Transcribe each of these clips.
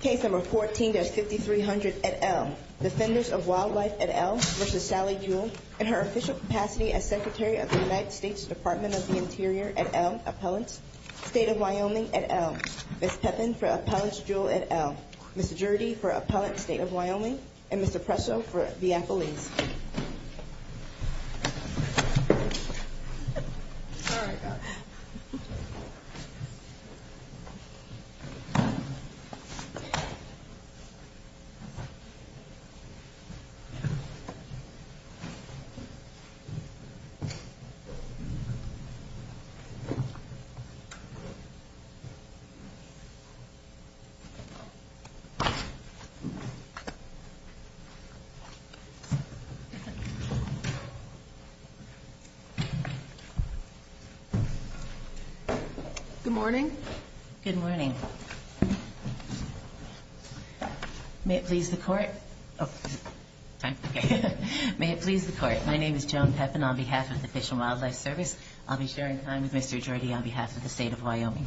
Case No. 14-5300 et al. Defenders of Wildlife et al. v. Sally Jewell In her official capacity as Secretary of the United States Department of the Interior et al. State of Wyoming et al. Ms. Pepin v. Appellant Jewell et al. Ms. Jurdy v. Appellant State of Wyoming And Ms. Oppresso v. Appellant Good morning. Good morning. May it please the Court. May it please the Court. My name is Joan Pepin on behalf of the Fish and Wildlife Service. I'll be sharing time with Mr. Jurdy on behalf of the State of Wyoming.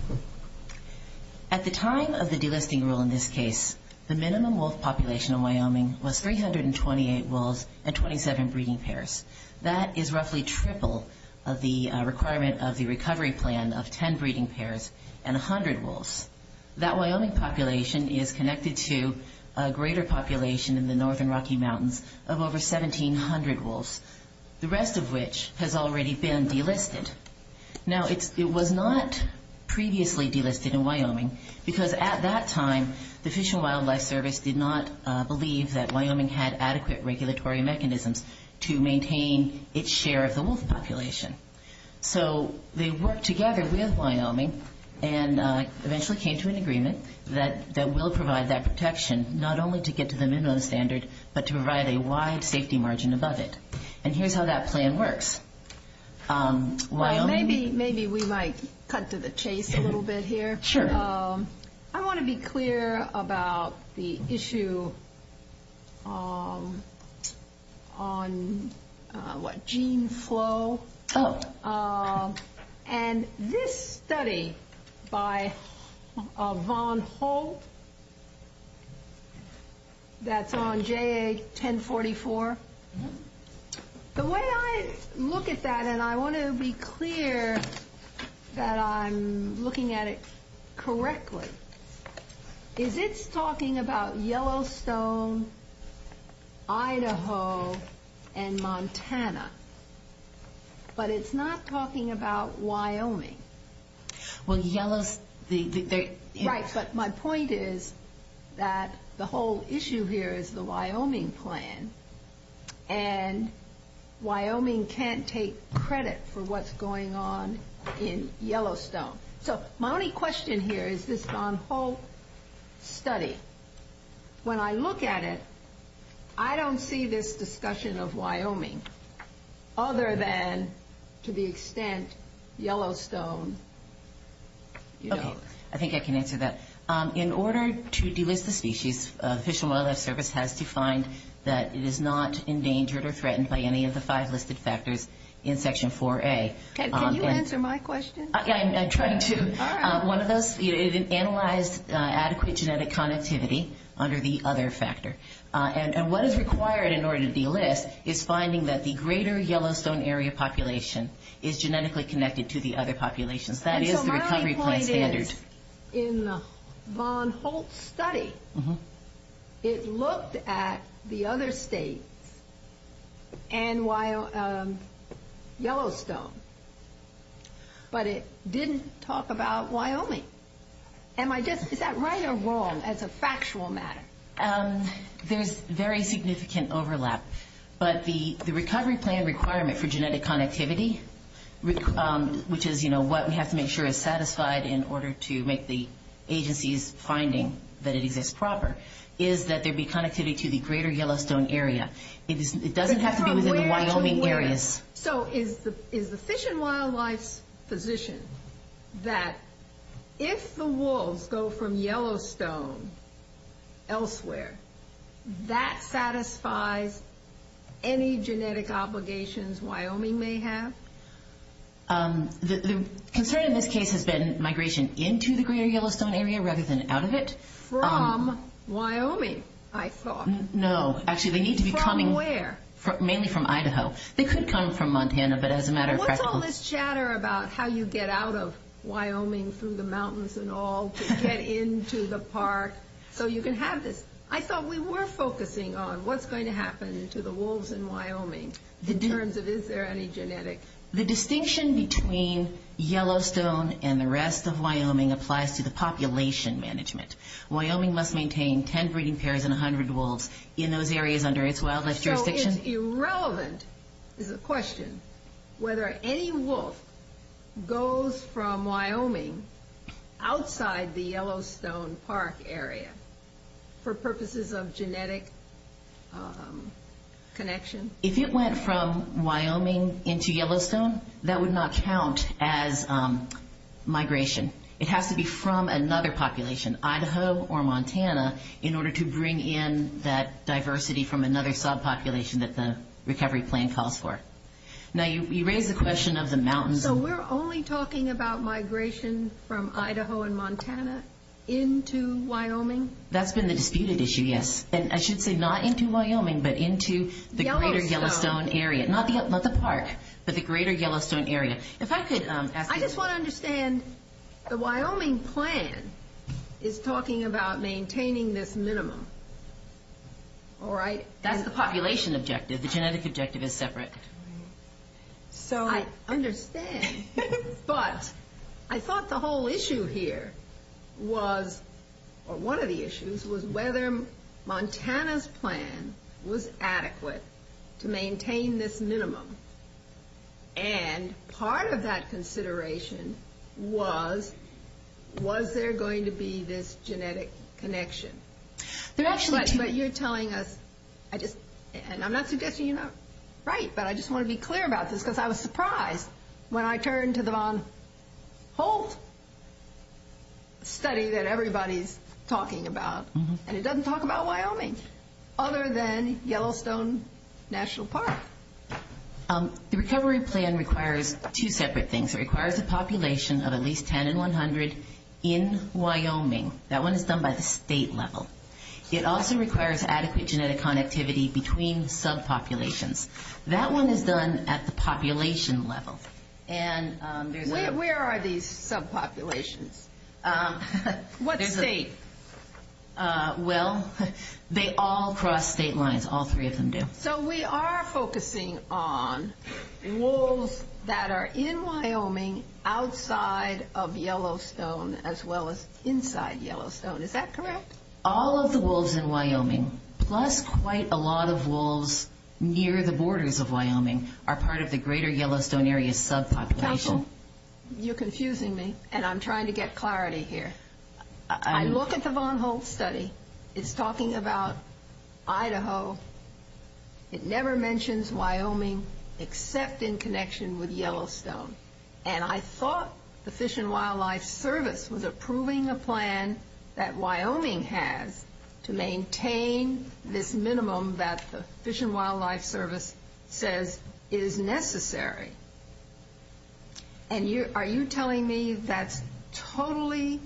At the time of the delisting rule in this case, the minimum wolf population in Wyoming was 328 wolves and 27 breeding pairs. That is roughly triple of the requirement of the recovery plan of 10 breeding pairs and 100 wolves. That Wyoming population is connected to a greater population in the northern Rocky Mountains of over 1,700 wolves, the rest of which has already been delisted. Now, it was not previously delisted in Wyoming because at that time the Fish and Wildlife Service did not believe that Wyoming had adequate regulatory mechanisms to maintain its share of the wolf population. So, they worked together with Wyoming and eventually came to an agreement that will provide that protection not only to get to the minimum standard but to provide a wide safety margin above it. And here's how that plan works. Maybe we might cut to the chase a little bit here. Sure. I want to be clear about the issue on gene flow. Oh. And this study by Von Holt that's on JA 1044, the way I look at that, and I want to be clear that I'm looking at it correctly, is it's talking about Yellowstone, Idaho, and Montana. But it's not talking about Wyoming. Well, Yellow... Right, but my point is that the whole issue here is the Wyoming plan and Wyoming can't take credit for what's going on in Yellowstone. So, my only question here is this Von Holt study. When I look at it, I don't see this discussion of Wyoming other than to the extent Yellowstone... Okay, I think I can answer that. In order to delist the species, Fish and Wildlife Service has defined that it is not endangered or threatened by any of the five listed factors in Section 4A. Can you answer my question? I'm trying to. One of those is an analyzed adequate genetic connectivity under the other factor. And what is required in order to delist is finding that the greater Yellowstone area population is genetically connected to the other populations. That is the recovery plan standard. In the Von Holt study, it looked at the other states and Yellowstone, but it didn't talk about Wyoming. Am I right or wrong as a factual matter? There's very significant overlap. But the recovery plan requirement for genetic connectivity, which is what we have to make sure is satisfied in order to make the agency's finding that it exists proper, is that there be connectivity to the greater Yellowstone area. It doesn't have to be within the Wyoming area. So is the Fish and Wildlife position that if the wolves go from Yellowstone elsewhere, that satisfies any genetic obligations Wyoming may have? The concern in this case has been migration into the greater Yellowstone area rather than out of it. From Wyoming, I thought. No, actually they need to be coming... From where? Mainly from Idaho. They could come from Montana, but as a matter of fact... What's all this chatter about how you get out of Wyoming through the mountains and all to get into the park so you can have this? I thought we were focusing on what's going to happen to the wolves in Wyoming in terms of is there any genetics? The distinction between Yellowstone and the rest of Wyoming applies to the population management. Wyoming must maintain 10 breeding pairs and 100 wolves in those areas under its wildlife jurisdiction. So it's irrelevant, is the question, whether any wolf goes from Wyoming outside the Yellowstone Park area for purposes of genetic connection? If it went from Wyoming into Yellowstone, that would not count as migration. It has to be from another population, Idaho or Montana, in order to bring in that diversity from another subpopulation that the recovery plan calls for. Now you raised the question of the mountains... So we're only talking about migration from Idaho and Montana into Wyoming? That's been the disputed issue, yes. And I should say not into Wyoming, but into the greater Yellowstone area. Not the park, but the greater Yellowstone area. I just want to understand the Wyoming plan is talking about maintaining this minimum, all right? That's the population objective. The genetic objective is separate. I understand. But I thought the whole issue here was, or one of the issues, was whether Montana's plan was adequate to maintain this minimum. And part of that consideration was, was there going to be this genetic connection? But you're telling us, and I'm not suggesting you're not right, but I just want to be clear about this, because I was surprised when I turned to the whole study that everybody's talking about. And it doesn't talk about Wyoming, other than Yellowstone National Park. The recovery plan requires two separate things. It requires a population of at least 10 in 100 in Wyoming. That one is done by the state level. It also requires adequate genetic connectivity between subpopulations. That one is done at the population level. Where are these subpopulations? What state? Well, they all cross state lines. All three of them do. So we are focusing on wolves that are in Wyoming, outside of Yellowstone, as well as inside Yellowstone. Is that correct? All of the wolves in Wyoming, plus quite a lot of wolves near the borders of Wyoming, are part of the greater Yellowstone area subpopulation. You're confusing me, and I'm trying to get clarity here. I look at the Von Holtz study. It's talking about Idaho. It never mentions Wyoming, except in connection with Yellowstone. And I thought the Fish and Wildlife Service was approving the plan that Wyoming has to maintain this minimum that the Fish and Wildlife Service says is necessary. And are you telling me that's totally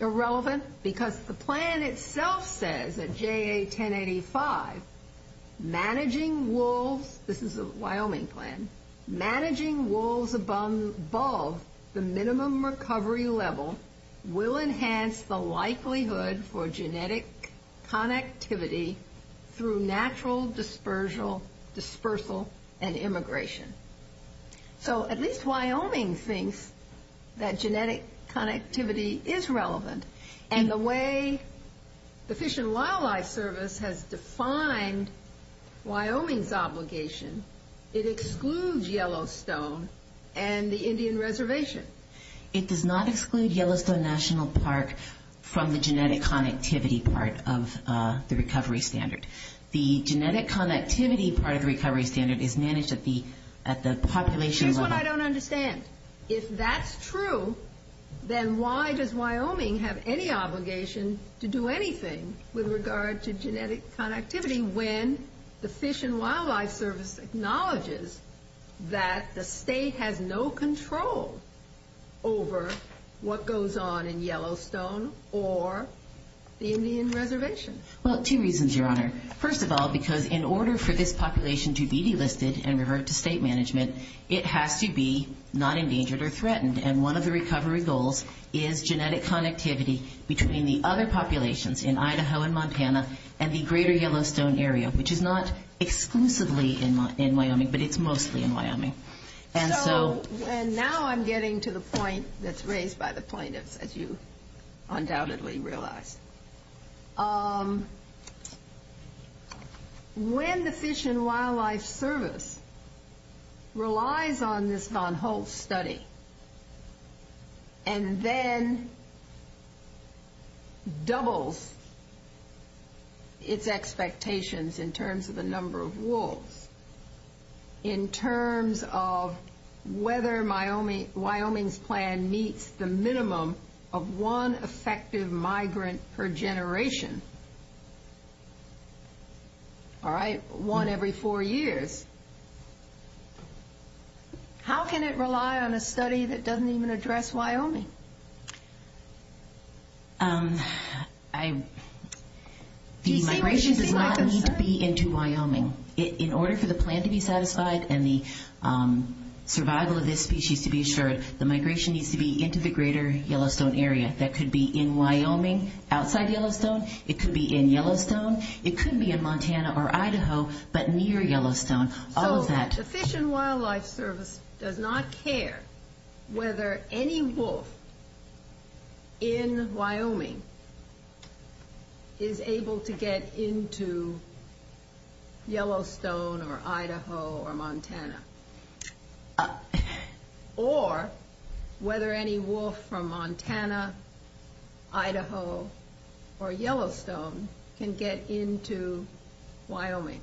irrelevant? Because the plan itself says at JA1085, managing wolves, this is a Wyoming plan, managing wolves above the minimum recovery level will enhance the likelihood for genetic connectivity through natural dispersal and immigration. So at least Wyoming thinks that genetic connectivity is relevant. And the way the Fish and Wildlife Service has defined Wyoming's obligation, it excludes Yellowstone and the Indian Reservation. It does not exclude Yellowstone National Park from the genetic connectivity part of the recovery standard. The genetic connectivity part of the recovery standard is managed at the population level. Here's what I don't understand. If that's true, then why does Wyoming have any obligation to do anything with regard to genetic connectivity when the Fish and Wildlife Service acknowledges that the state has no control over what goes on in Yellowstone or the Indian Reservation? Well, two reasons, Your Honor. First of all, because in order for this population to be delisted and revert to state management, it has to be not endangered or threatened. And one of the recovery goals is genetic connectivity between the other populations in Idaho and Montana and the greater Yellowstone area, which is not exclusively in Wyoming, but it's mostly in Wyoming. And now I'm getting to the point that's raised by the plaintiffs, as you undoubtedly realize. When the Fish and Wildlife Service relies on this Von Holtz study and then doubles its expectations in terms of the number of wolves, in terms of whether Wyoming's plan meets the minimum of one effective migrant per generation, all right, one every four years, how can it rely on a study that doesn't even address Wyoming? The migration does not need to be into Wyoming. In order for the plan to be satisfied and the survival of this species to be assured, the migration needs to be into the greater Yellowstone area. That could be in Wyoming, outside Yellowstone. It could be in Yellowstone. It could be in Montana or Idaho, but near Yellowstone. All of that. The Fish and Wildlife Service does not care whether any wolf in Wyoming is able to get into Yellowstone or Idaho or Montana, or whether any wolf from Montana, Idaho, or Yellowstone can get into Wyoming.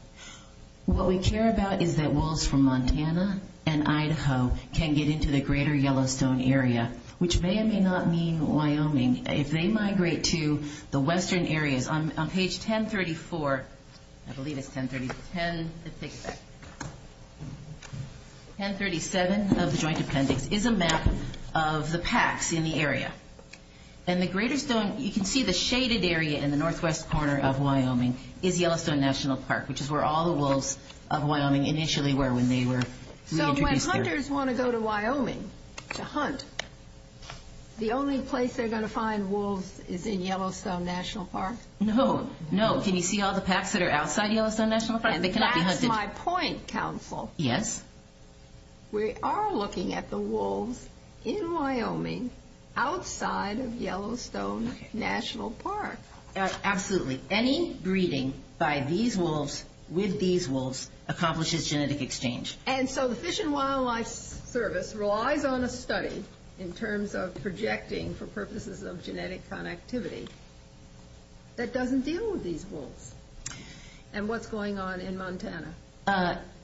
What we care about is that wolves from Montana and Idaho can get into the greater Yellowstone area, which may or may not mean Wyoming. If they migrate to the western areas, on page 1034, I believe it's 1030, 1036, 1037 of the Joint Appendix is a map of the packs in the area. You can see the shaded area in the northwest corner of Wyoming is Yellowstone National Park, which is where all the wolves of Wyoming initially were when they were introduced here. When hunters want to go to Wyoming to hunt, the only place they're going to find wolves is in Yellowstone National Park? No. Can you see all the packs that are outside Yellowstone National Park? That's my point, Council. Yes. We are looking at the wolves in Wyoming outside of Yellowstone National Park. Absolutely. Any breeding by these wolves with these wolves accomplishes genetic exchange. And so the Fish and Wildlife Service relies on a study in terms of projecting for purposes of genetic connectivity that doesn't deal with these wolves. And what's going on in Montana?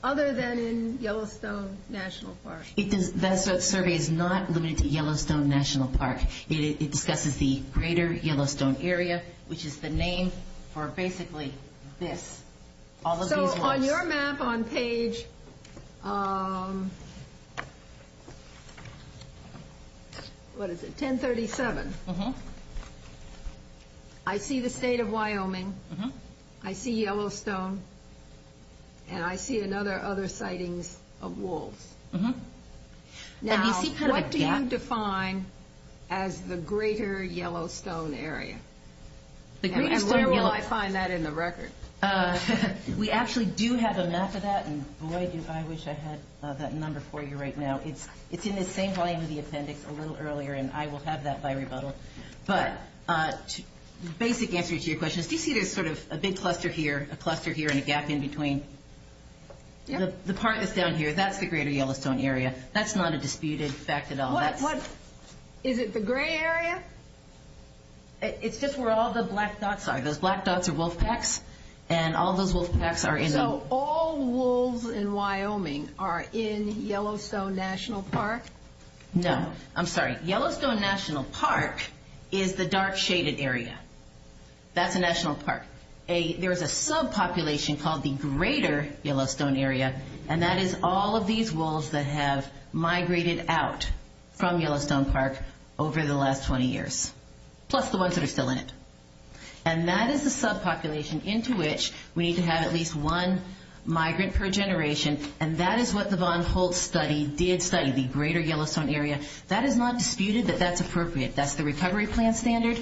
Other than in Yellowstone National Park. That survey is not limited to Yellowstone National Park. It discusses the greater Yellowstone area, which is the name for basically this. So on your map on page 1037, I see the state of Wyoming, I see Yellowstone, and I see other sightings of wolves. Now, what do you define as the greater Yellowstone area? And where will I find that in the record? We actually do have a map of that, and I wish I had that number for you right now. It's in the same volume of the appendix a little earlier, and I will have that by rebuttal. But the basic answer to your question, do you see there's sort of a big cluster here, a cluster here, and a gap in between? The part that's down here, that's the greater Yellowstone area. That's not a disputed fact at all. Is it the gray area? It's just where all the black dogs are. The black dogs are wolf packs, and all those wolf packs are in the... So all wolves in Wyoming are in Yellowstone National Park? No. I'm sorry. Yellowstone National Park is the dark shaded area. That's a national park. There's a subpopulation called the greater Yellowstone area, and that is all of these wolves that have migrated out from Yellowstone Park over the last 20 years. Plus the ones that are still in it. And that is the subpopulation into which we need to have at least one migrant per generation, and that is what the Von Holtz study did study, the greater Yellowstone area. That is not disputed, but that's appropriate. That's the recovery plan standard.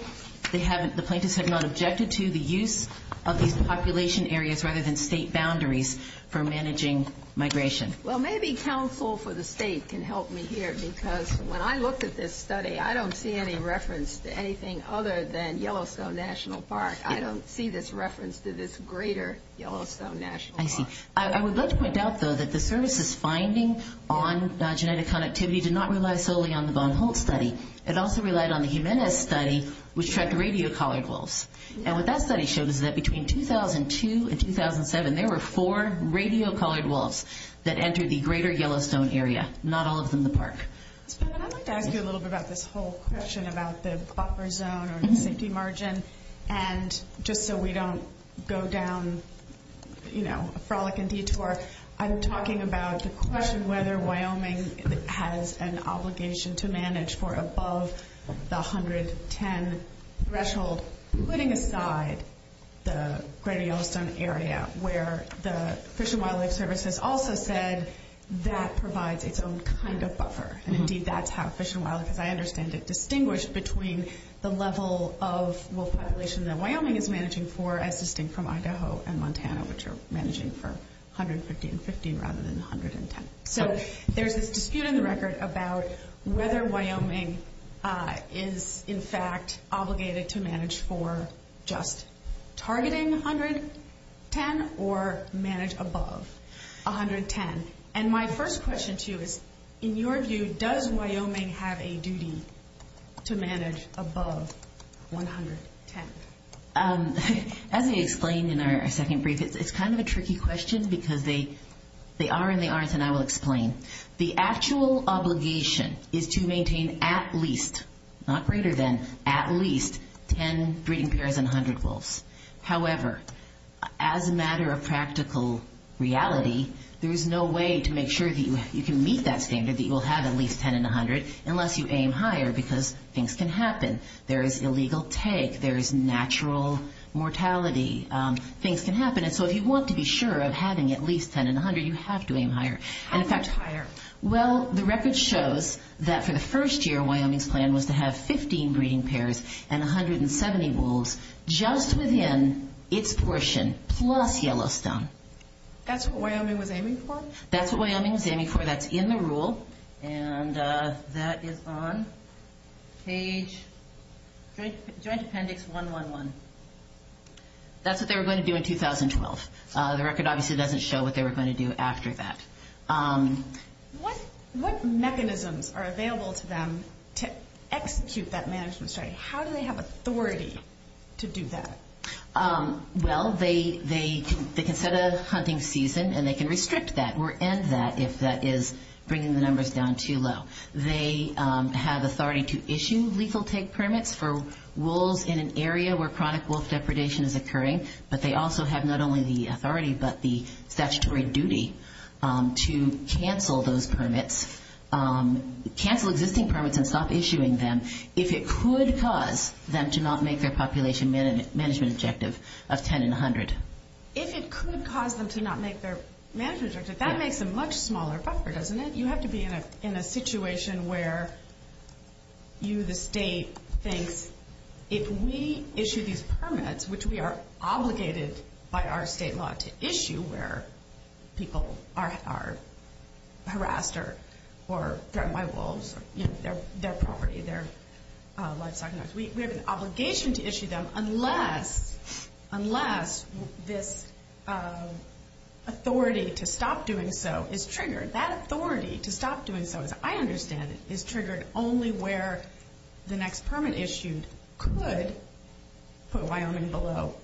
The plaintiffs have not objected to the use of these population areas rather than state boundaries for managing migration. Well, maybe counsel for the state can help me here, because when I looked at this study, I don't see any reference to anything other than Yellowstone National Park. I don't see this reference to this greater Yellowstone National Park. I would like to point out, though, that the services finding on genetic connectivity did not rely solely on the Von Holtz study. It also relied on the Jimenez study, which tracked radio-collared wolves. And what that study showed is that between 2002 and 2007, there were four radio-collared wolves that entered the greater Yellowstone area, not all of them in the park. I would like to ask you a little bit about this whole question about the buffer zone or safety margin. And just so we don't go down, you know, a frolicking detour, I'm talking about the question whether Wyoming has an obligation to manage for above the 110 threshold, putting aside the greater Yellowstone area where the Fish and Wildlife Service has also said that provides its own kind of buffer. And, indeed, that's how Fish and Wildlife, as I understand it, distinguished between the level of wolf population that Wyoming is managing for, consisting from Idaho and Montana, which are managing for 150 and 50 rather than 110. So there's this dispute in the record about whether Wyoming is, in fact, obligated to manage for just targeting 110 or manage above 110. And my first question to you is, in your view, does Wyoming have a duty to manage above 110? As I explained in our second brief, it's kind of a tricky question because they are and they aren't, and I'll explain. The actual obligation is to maintain at least, not greater than, at least 10 breeding pairs and 100 wolves. However, as a matter of practical reality, there is no way to make sure that you can meet that standard, that you will have at least 10 and 100, unless you aim higher because things can happen. There is illegal take. There is natural mortality. Things can happen. And so if you want to be sure of having at least 10 and 100, you have to aim higher. How much higher? Well, the record shows that for the first year, Wyoming's plan was to have 15 breeding pairs and 170 wolves just within its portion plus Yellowstone. That's what Wyoming was aiming for? That's what Wyoming was aiming for. That's in the rule. And that is on page Joint Appendix 111. That's what they were going to do in 2012. The record obviously doesn't show what they were going to do after that. What mechanisms are available to them to execute that management strategy? How do they have authority to do that? Well, they can set a hunting season, and they can restrict that or end that if that is bringing the numbers down too low. They have authority to issue legal take permits for wolves in an area where chronic wolf depredation is occurring, but they also have not only the authority but the statutory duty to cancel those permits, cancel existing permits and stop issuing them, if it could cause them to not make their population management objective of 10 in 100. If it could cause them to not make their management objective, that makes a much smaller buffer, doesn't it? You have to be in a situation where you, the state, think, if we issue these permits, which we are obligated by our state law to issue where people are harassed or threatened by wolves, their property, their livestock. We have an obligation to issue them unless this authority to stop doing so is triggered. That authority to stop doing so, as I understand it, is triggered only where the next permit issued could put Wyoming below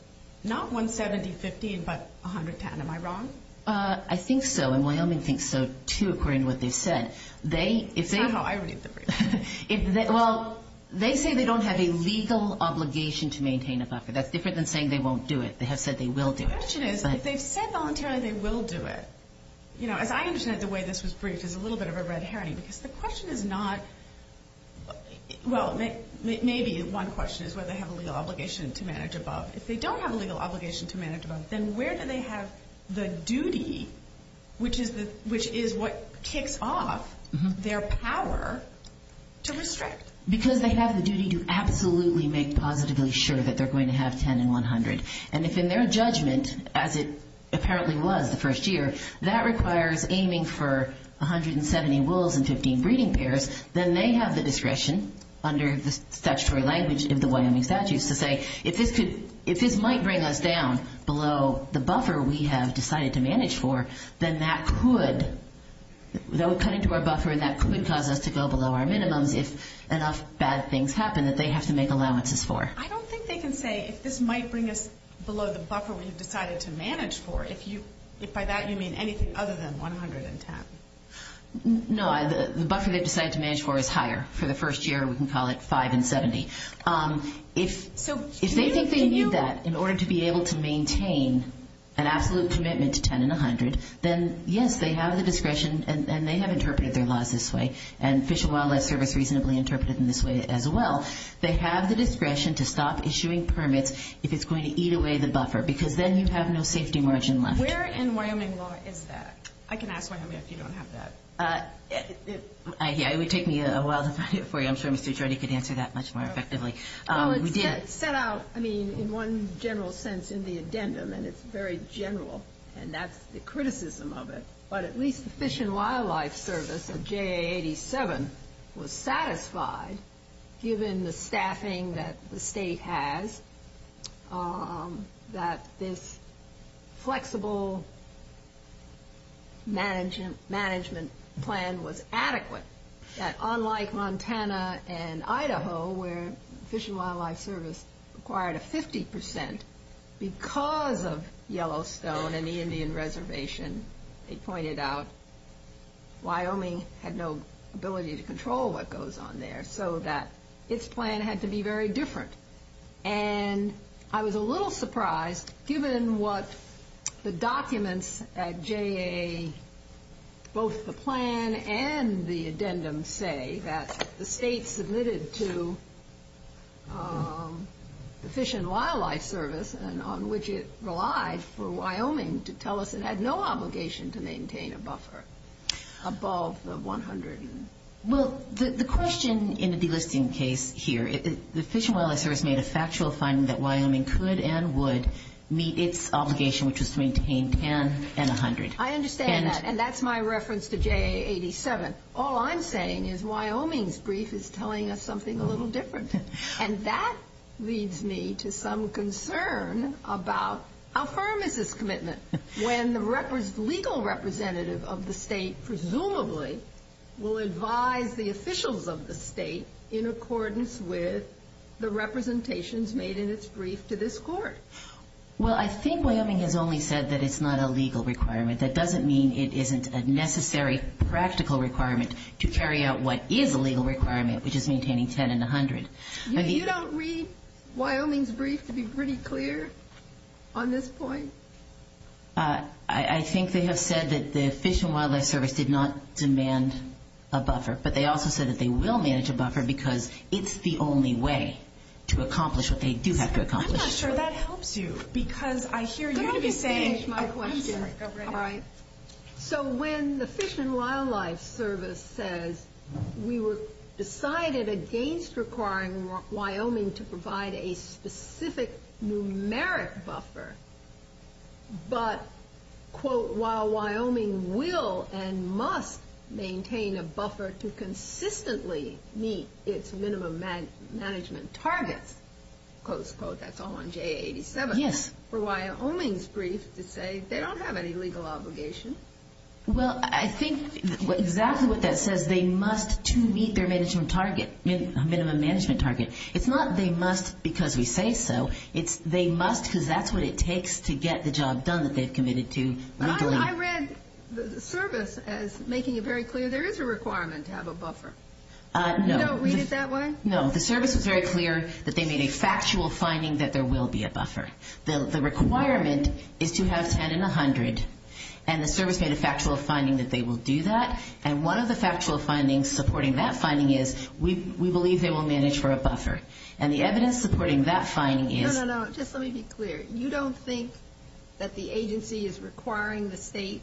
not 170, 50, but 110. Am I wrong? I think so. And Wyoming thinks so too, according to what they said. I don't know. I already said that. Well, they say they don't have a legal obligation to maintain a buffer. That's different than saying they won't do it. They have said they will do it. The question is, if they said voluntarily they will do it, you know, as I understand it, the way this was briefed is a little bit of a red herring. The question is not, well, maybe one question is whether they have a legal obligation to manage a buffer. If they don't have a legal obligation to manage a buffer, then where do they have the duty, which is what kicks off their power to restrict? Because they have the duty to absolutely make positively sure that they're going to have 10 and 100. And if in their judgment, as it apparently was the first year, that requires aiming for 170 wolves and 15 breeding pairs, then they have the discretion under the statutory language of the Wyoming statutes to say if this might bring us down below the buffer we have decided to manage for, then that would cut into our buffer and that could cause us to go below our minimum if enough bad things happen that they have to make allowances for. I don't think they can say if this might bring us below the buffer we've decided to manage for. If by that you mean anything other than 110. No, the buffer they've decided to manage for is higher. For the first year we can call it 5 and 70. If they think they can do that in order to be able to maintain an absolute commitment to 10 and 100, then, yes, they have the discretion and they have interpreted their laws this way and Fish and Wildlife Service reasonably interpreted them this way as well. They have the discretion to stop issuing permits if it's going to eat away the buffer because then you have no safety margin left. Where in Wyoming law is that? I can ask one of you if you don't have that. It would take me a while to find it for you. I'm sure Mr. Jordy could answer that much more effectively. It's set out in one general sense in the addendum, and it's very general, and that's the criticism of it, but at least the Fish and Wildlife Service, or JA 87, was satisfied, given the staffing that the state has, that this flexible management plan was adequate, that unlike Montana and Idaho where Fish and Wildlife Service required a 50% because of Yellowstone and the Indian Reservation, they pointed out Wyoming had no ability to control what goes on there so that its plan had to be very different. And I was a little surprised given what the documents at JA, both the plan and the addendum say, that the state submitted to the Fish and Wildlife Service on which it relies for Wyoming to tell us it had no obligation to maintain a buffer above the 100. Well, the question in the delisting case here is the Fish and Wildlife Service made a factual finding that Wyoming could and would meet its obligation which was to maintain 10 and 100. I understand that, and that's my reference to JA 87. All I'm saying is Wyoming's brief is telling us something a little different, and that leads me to some concern about a pharmacist commitment when the legal representative of the state presumably will advise the officials of the state in accordance with the representations made in its brief to this court. Well, I think Wyoming has only said that it's not a legal requirement. That doesn't mean it isn't a necessary practical requirement to carry out what is a legal requirement, which is maintaining 10 and 100. You don't read Wyoming's brief to be pretty clear on this point? I think they have said that the Fish and Wildlife Service did not demand a buffer, but they also said that they will manage a buffer because it's the only way to accomplish what they do have to accomplish. I'm not sure that helps you because I hear you saying it's my question, everybody. So when the Fish and Wildlife Service said we were decided against requiring Wyoming to provide a specific numeric buffer, but, quote, while Wyoming will and must maintain a buffer to consistently meet its minimum management target, quote, unquote, that's all on JA 87, for Wyoming's brief to say they don't have any legal obligation. Well, I think exactly what that says. They must to meet their minimum management target. It's not they must because we say so. It's they must because that's what it takes to get the job done that they've committed to. I read the service as making it very clear there is a requirement to have a buffer. You don't read it that way? No, the service is very clear that they made a factual finding that there will be a buffer. The requirement is to have 10 in 100, and the service made a factual finding that they will do that, and one of the factual findings supporting that finding is we believe they will manage for a buffer, and the evidence supporting that finding is. No, no, no, just let me be clear. You don't think that the agency is requiring the state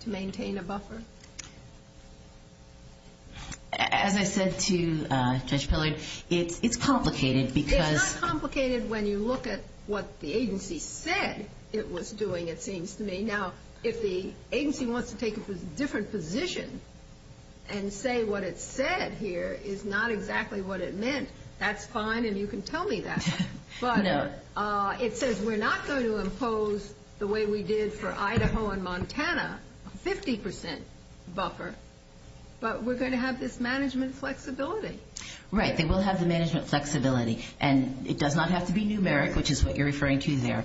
to maintain a buffer? As I said to Judge Pillard, it's complicated because. It's not complicated when you look at what the agency said it was doing, it seems to me. Now, if the agency wants to take a different position and say what it said here is not exactly what it meant, that's fine, and you can tell me that. No. But it says we're not going to impose the way we did for Idaho and Montana, 50%. But we're going to have this management flexibility. Right, they will have the management flexibility, and it does not have to be numeric, which is what you're referring to there.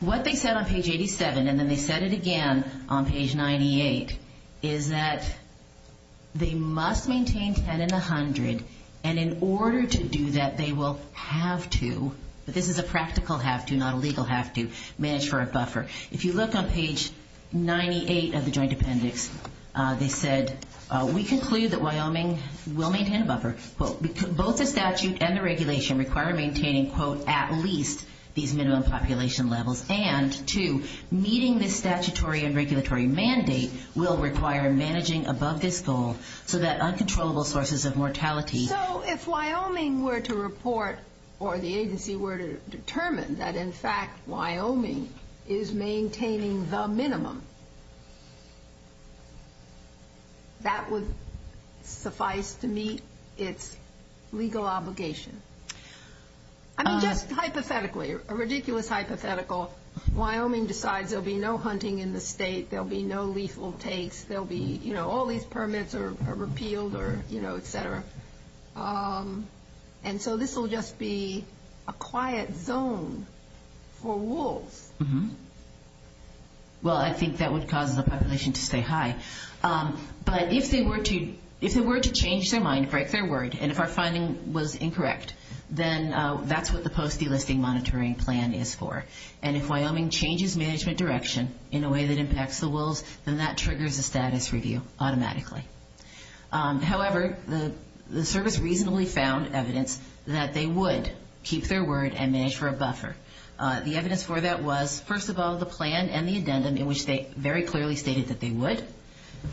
What they said on page 87 and then they said it again on page 98 is that they must maintain 10 in 100, and in order to do that, they will have to, but this is a practical have to, not a legal have to, manage for a buffer. If you look on page 98 of the joint appendix, they said, we conclude that Wyoming will maintain a buffer. Both the statute and the regulation require maintaining, quote, at least these minimum population levels, and, two, meeting the statutory and regulatory mandate will require managing above this goal so that uncontrollable sources of mortality. So if Wyoming were to report or the agency were to determine that, in fact, Wyoming is maintaining the minimum, that would suffice to meet its legal obligation. Just hypothetically, a ridiculous hypothetical, Wyoming decides there will be no hunting in the state, there will be no lethal takes, there will be, you know, all these permits are repealed or, you know, et cetera. And so this will just be a quiet zone for wolves. Well, I think that would cause the population to say hi. But if they were to change their mind, write their word, and if our finding was incorrect, then that's what the post delisting monitoring plan is for. And if Wyoming changes management direction in a way that impacts the wolves, then that triggers a status review automatically. However, the service reasonably found evidence that they would keep their word and manage for a buffer. The evidence for that was, first of all, the plan and the addendum in which they very clearly stated that they would.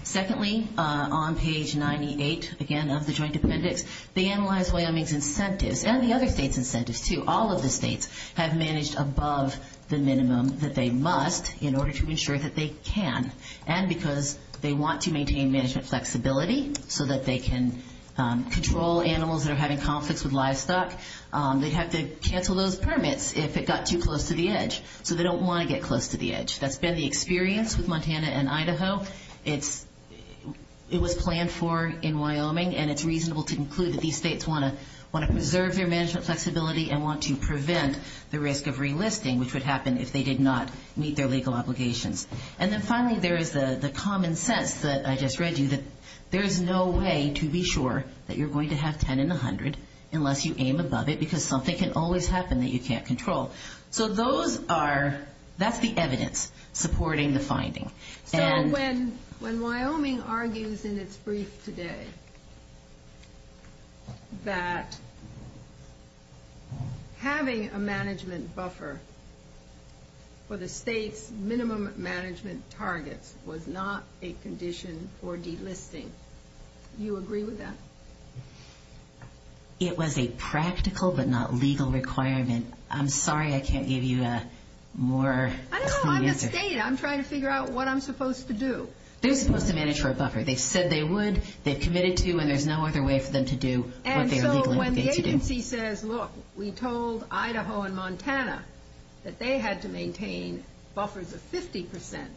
Secondly, on page 98, again, of the joint appendix, they analyzed Wyoming's incentives and the other states' incentives, too. All of the states have managed above the minimum that they must in order to ensure that they can and because they want to maintain management flexibility so that they can control animals that are having conflicts with livestock. They'd have to cancel those permits if it got too close to the edge. So they don't want to get close to the edge. That's been the experience with Montana and Idaho. It was planned for in Wyoming, and it's reasonable to conclude that these states want to preserve their management flexibility and want to prevent the risk of relisting, which would happen if they did not meet their legal obligations. And then, finally, there is the common sense that I just read you, that there's no way to be sure that you're going to have 10 in the 100 unless you aim above it because something can always happen that you can't control. So that's the evidence supporting the finding. When Wyoming argues in its brief today that having a management buffer for the state's minimum management target was not a condition for delisting, do you agree with that? It was a practical but not legal requirement. I'm sorry I can't give you a more concrete answer. I'm trying to figure out what I'm supposed to do. They're supposed to manage for a buffer. They said they would, they've committed to, and there's no other way for them to do what they're legally obligated to do. And so when the agency says, look, we told Idaho and Montana that they had to maintain buffers of 50%,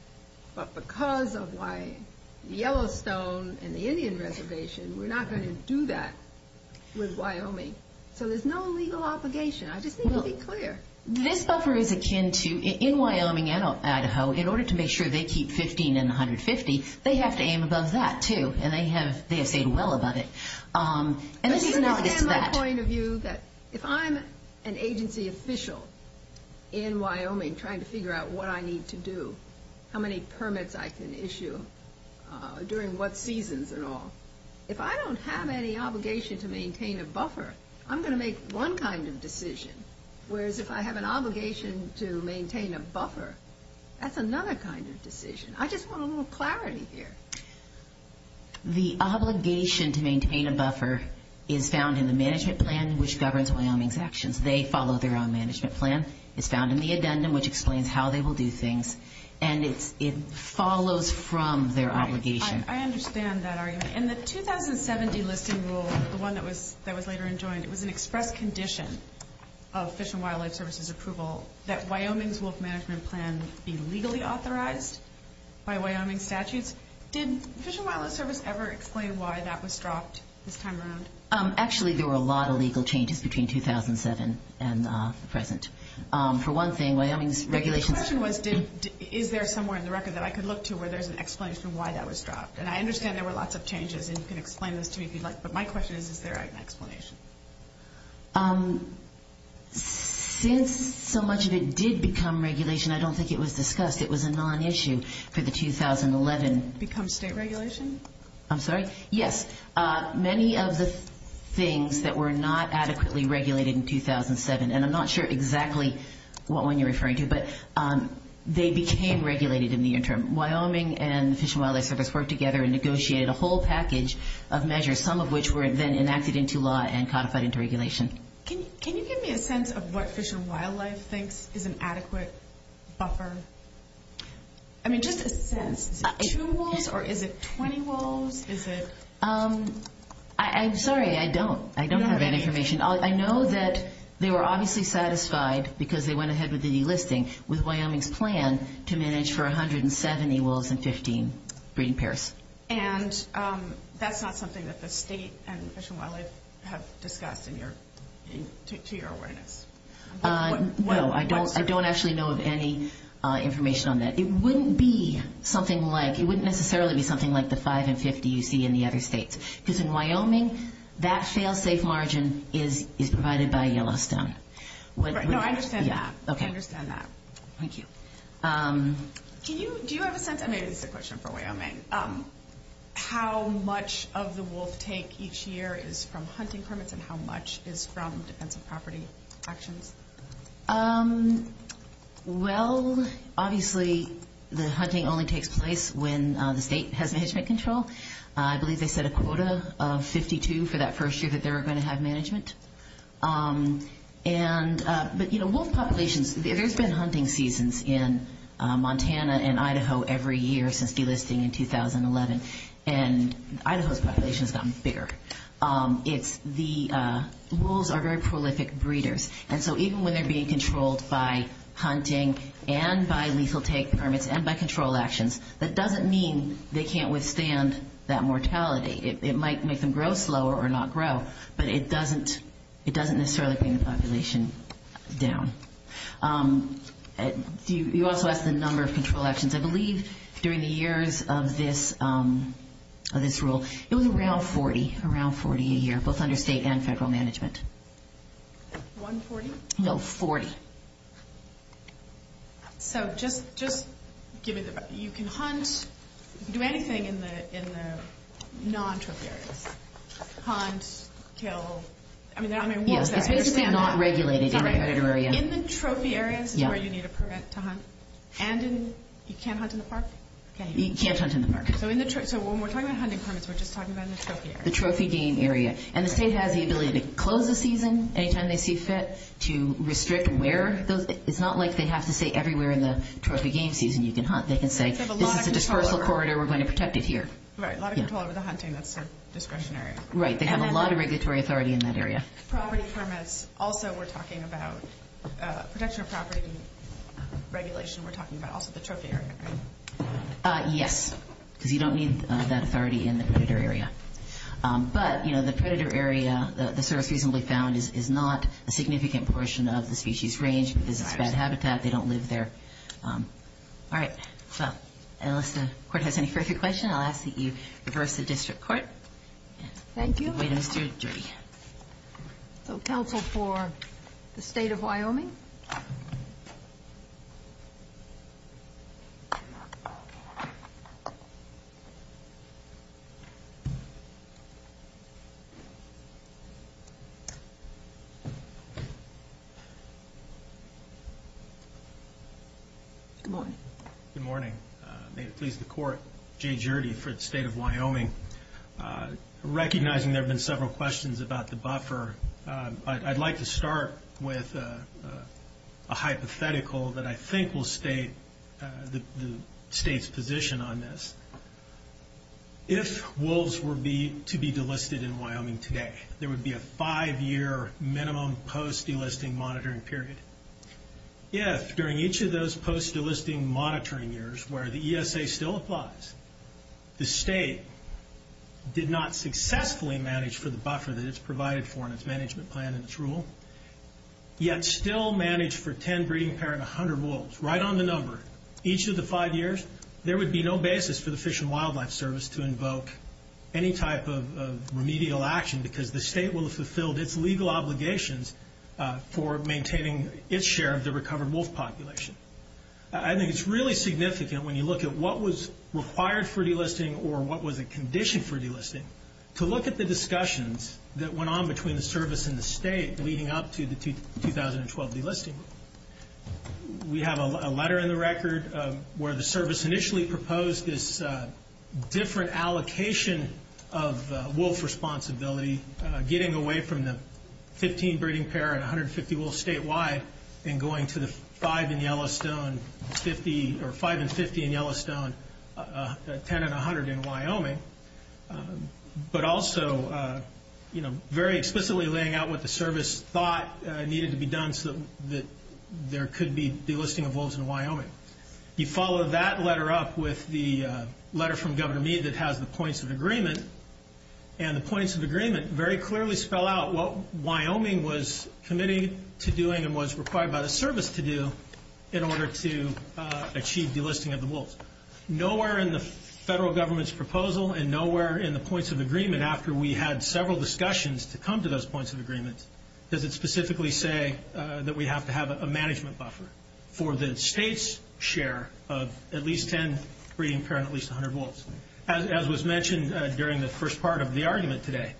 but because of why Yellowstone and the Indian Reservation were not going to do that with Wyoming. So there's no legal obligation. I just need to be clear. This buffer is akin to, in Wyoming and Idaho, in order to make sure they keep 15 and 150, they have to aim above that, too. And they have said well about it. Let me understand my point of view that if I'm an agency official in Wyoming trying to figure out what I need to do, how many permits I can issue, during what seasons and all, if I don't have any obligation to maintain a buffer, I'm going to make one kind of decision. Whereas if I have an obligation to maintain a buffer, that's another kind of decision. I just want a little clarity here. The obligation to maintain a buffer is found in the management plan, which governs Wyoming's actions. They follow their own management plan. It's found in the addendum, which explains how they will do things. And it follows from their obligation. I understand that. In the 2070 listing rule, the one that was later enjoined, it was an express condition of Fish and Wildlife Service's approval that Wyoming's wolf management plan be legally authorized by Wyoming statutes. Did Fish and Wildlife Service ever explain why that was dropped this time around? Actually, there were a lot of legal changes between 2007 and the present. For one thing, Wyoming's regulations – The question was is there somewhere in the record that I could look to where there's an explanation of why that was dropped. And I understand there were lots of changes, and you can explain this to me if you'd like. But my question is, is there an explanation? Since so much of it did become regulation, I don't think it was discussed. It was a non-issue for the 2011. Become state regulation? I'm sorry? Yes. Many of the things that were not adequately regulated in 2007, and I'm not sure exactly what one you're referring to, but they became regulated in the interim. Wyoming and Fish and Wildlife Service worked together and negotiated a whole package of measures, some of which were then enacted into law and codified into regulation. Can you give me a sense of what Fish and Wildlife thinks is an adequate buffer? I mean, just a sense. Is it two wolves, or is it 20 wolves? I'm sorry, I don't. I don't have that information. I know that they were obviously satisfied, because they went ahead with the listing, with Wyoming's plan to manage for 170 wolves and 15 breeding pairs. And that's not something that the state and Fish and Wildlife have discussed in your awareness? No, I don't actually know of any information on that. It wouldn't necessarily be something like the 5 in 50 you see in the other states, because in Wyoming, that sale-safe margin is provided by Yellowstone. No, I understand that. Okay. Thank you. Do you have a sense, and this is a question for Wyoming, how much of the wolf take each year is from hunting permits, and how much is from potential property actions? Well, obviously, the hunting only takes place when the state has management control. I believe they set a quota of 52 for that first year that they were going to have management. But, you know, wolf populations, there's been hunting seasons in Montana and Idaho every year since delisting in 2011, and Idaho's population has gotten bigger. The wolves are very prolific breeders, and so even when they're being controlled by hunting and by lethal take permits and by control actions, that doesn't mean they can't withstand that mortality. It might make them grow slower or not grow, but it doesn't necessarily bring the population down. You also asked the number of control actions. I believe during the years of this rule, it was around 40, around 40 a year, both under state and federal management. 140? No, 40. So just, you can hunt, do anything in the non-trophy areas. Hunt, kill, I mean, wolves are- Yeah, they're just not regulated in the credit area. In the trophy areas is where you need a permit to hunt, and in, you can't hunt in the park? You can't hunt in the park. So when we're talking about hunting permits, we're just talking about in the trophy areas. The trophy game area, and the state has the ability to close the season anytime they see fit to restrict where, it's not like they have to say everywhere in the trophy game season you can hunt. They can say, this is a dispersal corridor, we're going to protect it here. Right, a lot of people are going to hunt in that discretionary area. Right, they have a lot of regulatory authority in that area. Property permits, also we're talking about, protection of property regulation, we're talking about also the trophy area, right? Yes, because you don't need that authority in the predator area. But, you know, the predator area, the surface we found is not a significant portion of the species range, because it's bad habitat, they don't live there. Alright, so, unless the court has any further questions, I'll ask that you reverse the district court. Thank you. So, counsel for the state of Wyoming? Good morning. Good morning. May it please the court, Jay Gjerde for the state of Wyoming. Recognizing there have been several questions about the buffer, I'd like to start with a hypothetical that I think will state the state's position on this. If wolves were to be delisted in Wyoming today, there would be a five-year minimum post-delisting monitoring period. If, during each of those post-delisting monitoring years where the ESA still applies, the state did not successfully manage for the buffer that it's provided for in its management plan and its rule, yet still managed for 10 breeding pair and 100 wolves, right on the number, each of the five years, there would be no basis for the Fish and Wildlife Service to invoke any type of remedial action, because the state will have fulfilled its legal obligations for maintaining its share of the recovered wolf population. I think it's really significant when you look at what was required for delisting or what was a condition for delisting, to look at the discussions that went on between the service and the state leading up to the 2012 delisting. We have a letter in the record where the service initially proposed this different allocation of wolf responsibility, getting away from the 15 breeding pair and 150 wolves statewide, and going to the 5 and 50 in Yellowstone, 10 and 100 in Wyoming, but also, you know, very explicitly laying out what the service thought needed to be done so that there could be delisting of wolves in Wyoming. He followed that letter up with the letter from Governor Meade that has the points of agreement, and the points of agreement very clearly spell out what Wyoming was committed to doing and was required by the service to do in order to achieve delisting of the wolves. Nowhere in the federal government's proposal and nowhere in the points of agreement after we had several discussions to come to those points of agreement, does it specifically say that we have to have a management buffer for the state's share of at least 10 breeding pair and at least 100 wolves, as was mentioned during the first part of the argument today.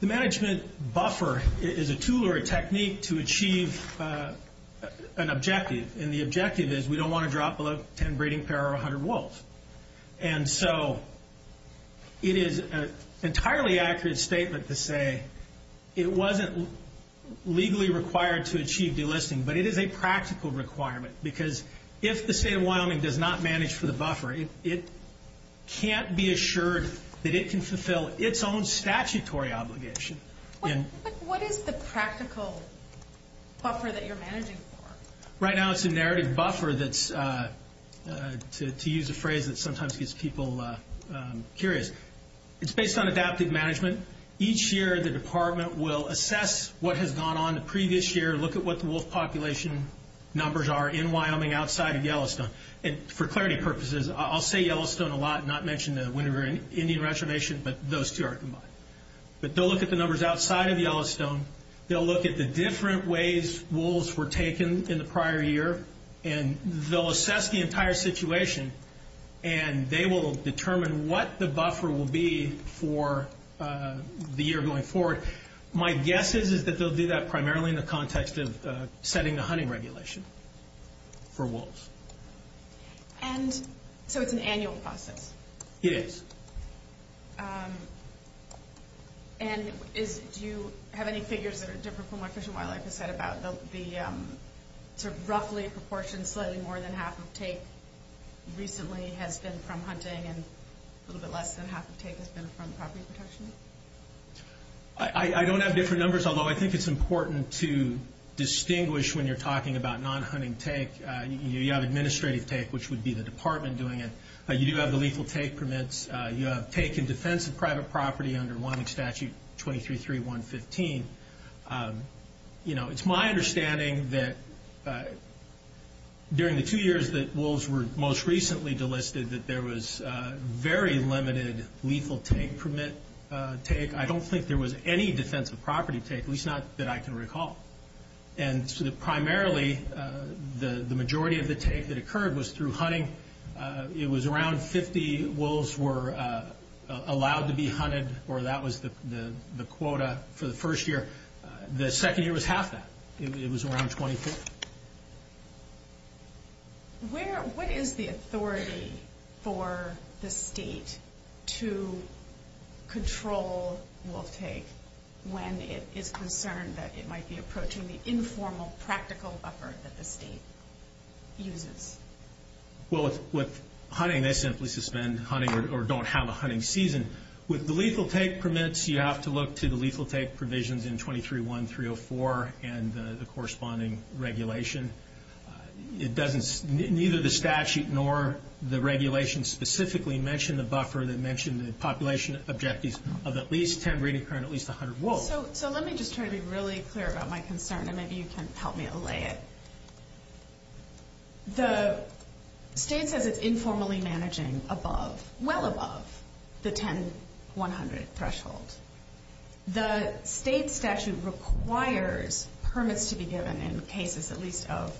The management buffer is a tool or a technique to achieve an objective, and the objective is we don't want to drop below 10 breeding pair or 100 wolves. And so it is an entirely accurate statement to say it wasn't legally required to achieve delisting, but it is a practical requirement because if the state of Wyoming does not manage for the buffer, it can't be assured that it can fulfill its own statutory obligation. What is the practical buffer that you're managing for? Right now it's a narrative buffer that's, to use a phrase that sometimes gets people curious. It's based on adaptive management. Each year the department will assess what has gone on the previous year, look at what the wolf population numbers are in Wyoming outside of Yellowstone. And for clarity purposes, I'll say Yellowstone a lot, not mention the Winter Indian Reservation, but those two are combined. But they'll look at the numbers outside of Yellowstone, they'll look at the different ways wolves were taken in the prior year, and they'll assess the entire situation, and they will determine what the buffer will be for the year going forward. My guess is that they'll do that primarily in the context of setting the hunting regulation for wolves. And so it's an annual process? It is. And do you have any figures that are different from what Fish and Wildlife has said about the roughly proportion, slightly more than half the take recently has been from hunting and a little bit less than half the take has been from property protection? I don't have different numbers, although I think it's important to distinguish when you're talking about non-hunting take. You have administrative take, which would be the department doing it, but you do have the legal take permits. You have take in defense of private property under one statute, 23.3.115. You know, it's my understanding that during the two years that wolves were most recently delisted that there was very limited lethal take permit take. I don't think there was any defensive property take, at least not that I can recall. And so primarily, the majority of the take that occurred was through hunting. It was around 50 wolves were allowed to be hunted, or that was the quota for the first year. The second year was half that. It was around 25. What is the authority for the state to control wolf take when it is concerned that it might be approaching the informal practical buffer that the state uses? Well, with hunting, they simply suspend hunting or don't have a hunting season. With the lethal take permits, you have to look to the lethal take provisions in 23.1.304 and the corresponding regulation. It doesn't, neither the statute nor the regulation specifically mention the buffer. They mention the population objectives of at least 10 reoccurring at least 100 wolves. So let me just try to be really clear about my concern, and then you can help me allay it. The state says it's informally managing above, well above, the 10.100 threshold. The state statute requires permits to be given in cases at least of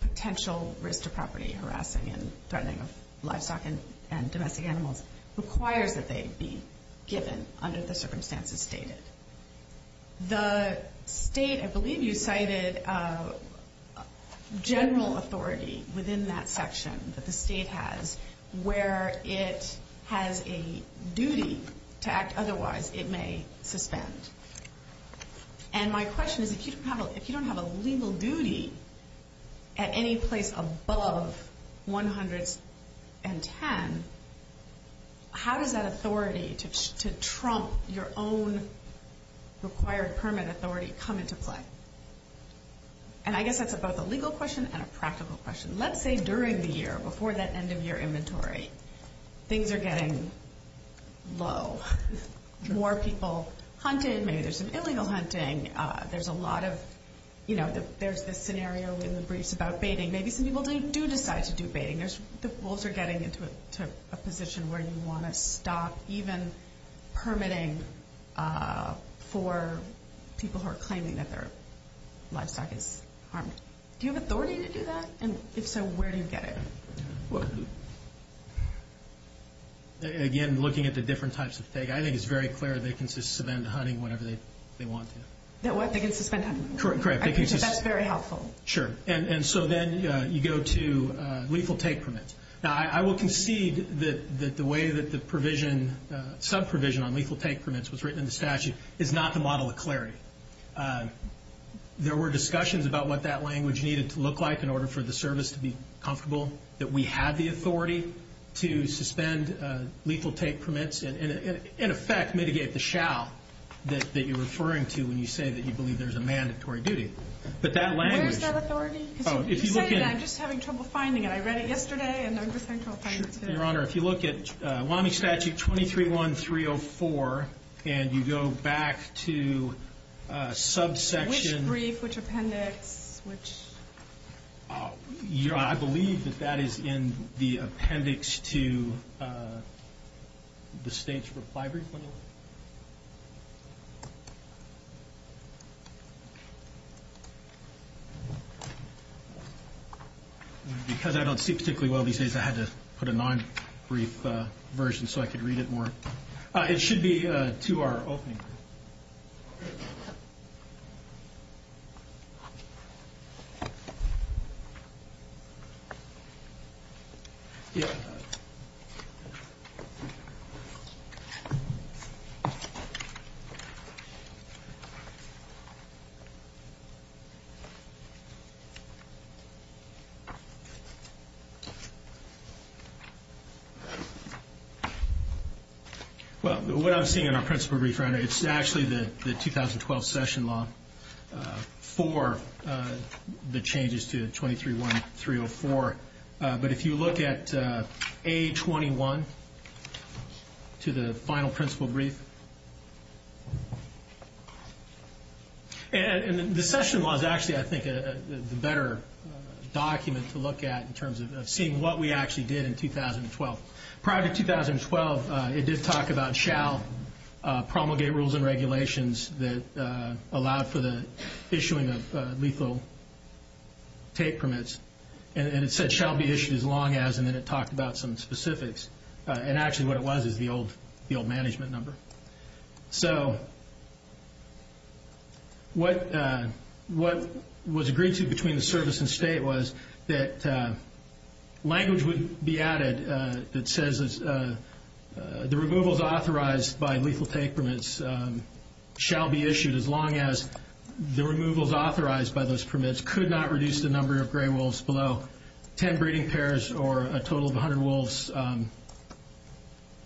potential risk to property harassing and threatening of livestock and domestic animals. It requires that they be given under the circumstances stated. The state, I believe you cited general authority within that section that the state has where it has a duty to act otherwise it may suspend. And my question is if you don't have a legal duty at any place above 110, how does that authority to trump your own required permit authority come into play? And I guess that's both a legal question and a practical question. Let's say during the year, before that end of your inventory, things are getting low. More people hunting, maybe there's some illegal hunting. There's a lot of, you know, there's this scenario in the briefs about baiting. Maybe some people do decide to do baiting. The bulls are getting into a position where you want to stop even permitting for people who are claiming that their livestock is harmed. Do you have authority to do that? And if so, where do you get it? Again, looking at the different types of take, I think it's very clear they can suspend hunting whenever they want to. What? They can suspend hunting? Correct. That's very helpful. Sure. And so then you go to lethal take permits. Now, I will concede that the way that the sub-provision on lethal take permits was written in the statute is not the model of clarity. There were discussions about what that language needed to look like in order for the service to be comfortable, that we had the authority to suspend lethal take permits and, in effect, mitigate the shall that you're referring to when you say that you believe there's a mandatory duty. But that language... Do you have authority? Oh, if you look at... I'm just having trouble finding it. I read it yesterday, and I'm just trying to find it. Sure. Your Honor, if you look at Wyoming Statute 23.1.304, and you go back to subsections... Which brief, which appendix, which... I believe that that is in the appendix to the state's reply brief. Because I don't speak particularly well these days, I had to put a non-brief version so I could read it more. It should be to our opening. Well, what I'm seeing in our principle brief right now, it's actually the 2012 session law for the changes to 23.1.304. But if you look at A21 to the final principle brief... And the session law is actually, I think, the better document to look at in terms of seeing what we actually did in 2012. Prior to 2012, it did talk about shall promulgate rules and regulations that allowed for the issuing of lethal tape permits. And it said shall be issued as long as... And then it talked about some specifics. And actually what it was is the old management number. So what was agreed to between the service and state was that language would be added that says the removals authorized by lethal tape permits shall be issued as long as the removals authorized by those permits could not reduce the number of gray wolves below 10 breeding pairs or a total of 100 wolves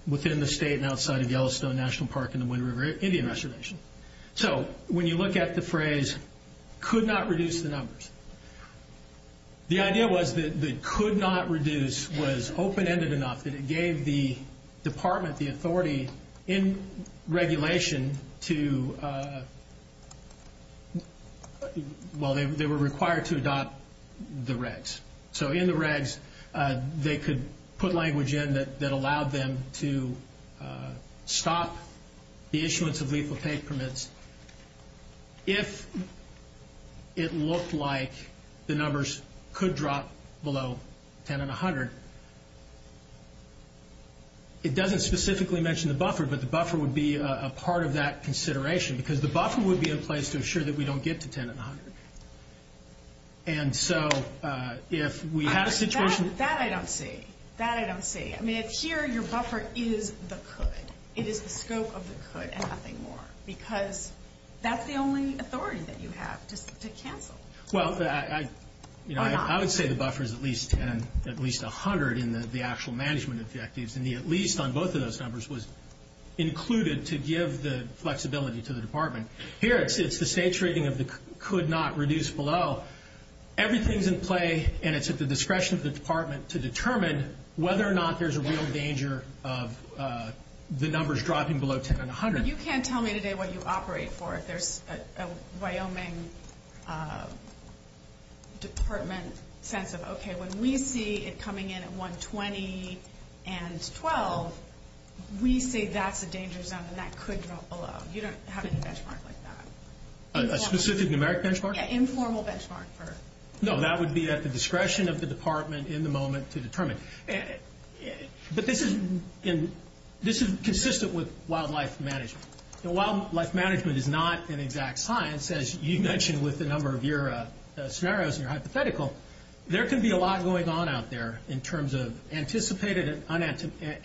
within the state and outside of Yellowstone National Park and the Muddy River Indian Reservation. So when you look at the phrase could not reduce the numbers, the idea was that the could not reduce was open-ended enough that it gave the department the authority in regulation to... Well, they were required to adopt the regs. So in the regs, they could put language in that allowed them to stop the issuance of lethal tape permits if it looked like the numbers could drop below 10 and 100. It doesn't specifically mention the buffer, but the buffer would be a part of that consideration because the buffer would be a place to assure that we don't get to 10 and 100. And so if we had a situation... That I don't see. That I don't see. I mean, here your buffer is the could. It is the scope of the could and nothing more because that's the only authority that you have to cancel. Well, I would say the buffer is at least 10, at least 100 in the actual management objectives and the at least on both of those numbers was included to give the flexibility to the department. Here, it's the saturating of the could not reduce below. Everything's in play and it's at the discretion of the department to determine whether or not there's a real danger of the numbers dropping below 10 and 100. You can't tell me today what you operate for if there's a Wyoming department sense of, okay, when we see it coming in at 120 and 12, we say that's a dangerous number and that could drop below. You don't have any benchmark like that. A specific numeric benchmark? Yeah, informal benchmark first. No, that would be at the discretion of the department in the moment to determine. But this is consistent with wildlife management. Wildlife management is not an exact science as you mentioned with the number of scenarios and hypothetical. There could be a lot going on out there in terms of anticipated and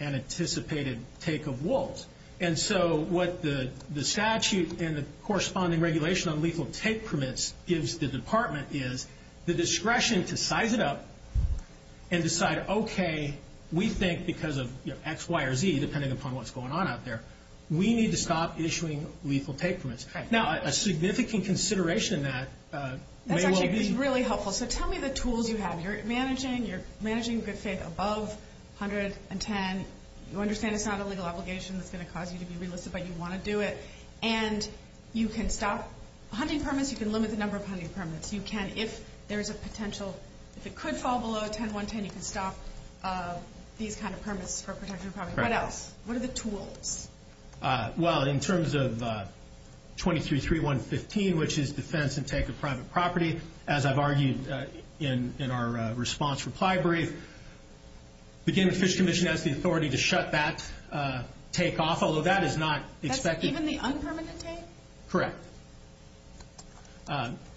unanticipated take of wolves. And so, what the statute and the corresponding regulation on legal take permits gives the we think because of X, Y, or Z, depending upon what's going on out there, we need to stop issuing legal take permits. Now, a significant consideration in that may well be... That's actually really helpful. So, tell me the tools you have. You're managing good faith above 100 and 10. You understand it's not a legal obligation that's going to cause you to be illicit, but you want to do it. And you can stop hunting permits. You can limit the number of hunting permits. You can, if there's a potential, if it could fall below 10, 110, you can stop these kind of permits. What else? What are the tools? Well, in terms of 223115, which is defense and take of private property, as I've argued in our response reply brief, the Game and Fish Commission has the authority to shut back take off, although that is not expected. Even the unpermitted take? Correct.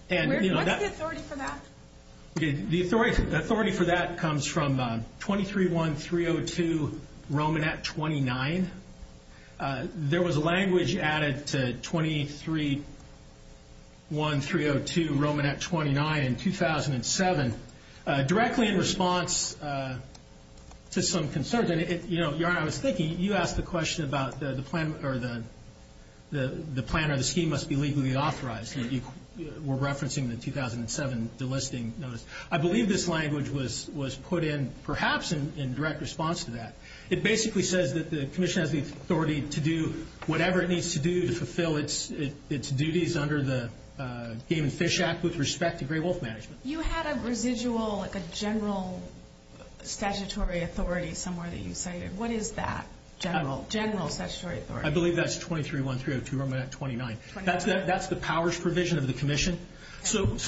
Where's the authority for that? The authority for that comes from 231302 Romanet 29. There was language added to 231302 Romanet 29 in 2007, directly in response to some concerns. You asked the question about the plan or the scheme must be legally authorized. We're referencing the 2007 listing. I believe this language was put in perhaps in direct response to that. It basically said that the commission has the authority to do whatever it needs to do to fulfill its duties under the Game and Fish Act with respect to gray wolf management. You had a residual, a general statutory authority somewhere that you cited. What is that? General statutory authority. I believe that's 231302 Romanet 29. That's the powers provision of the commission.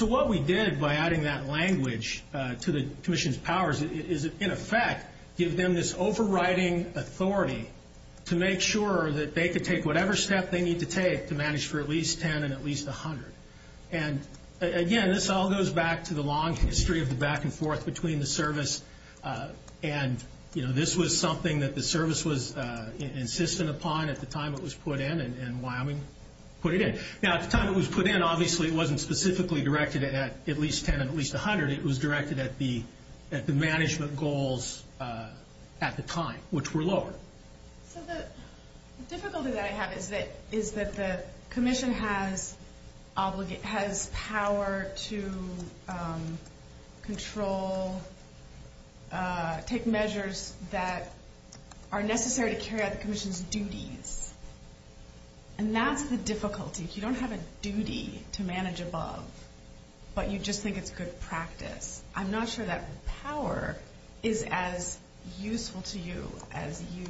What we did by adding that language to the commission's powers is, in effect, give them this overriding authority to make sure that they could take whatever step they need to take to manage for at least 10 and at least 100. Again, this all goes back to the long history of the back and forth between the service and this was something that the service was insistent upon at the time it was put in and Wyoming put it in. At the time it was put in, obviously, it wasn't specifically directed at at least 10 and at least 100. It was directed at the management goals at the time, which were lower. The difficulty that I have is that the commission has power to control, take measures that are necessary to carry out the commission's duties. That's the difficulty. You don't have a duty to manage a bug, but you just think it's good practice. I'm not sure that power is as useful to you as you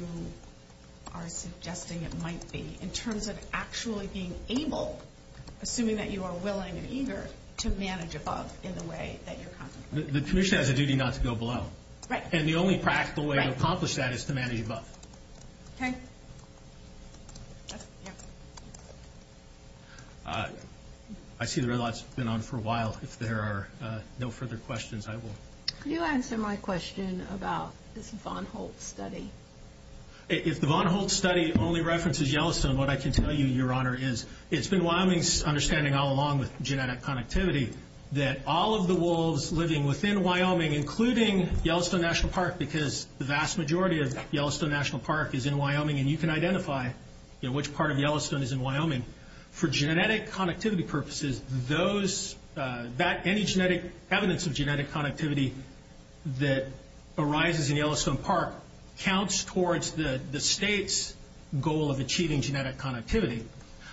are suggesting it might be in terms of actually being able, assuming that you are willing and eager, to manage a bug in the way that you're... The commission has a duty not to go below. Right. The only practical way to accomplish that is to manage a bug. Okay. I see the red light's been on for a while. If there are no further questions, I will... Can you answer my question about this Von Holtz study? If the Von Holtz study only references Yellowstone, what I can tell you, Your Honor, is it's been Wyoming's understanding all along with genetic connectivity that all of the wolves living within Wyoming, including Yellowstone National Park, because the vast majority of Yellowstone National Park is in Wyoming and you can identify which part of Yellowstone is in Wyoming, for genetic connectivity purposes, any evidence of genetic connectivity that arises in Yellowstone Park counts towards the state's goal of achieving genetic connectivity.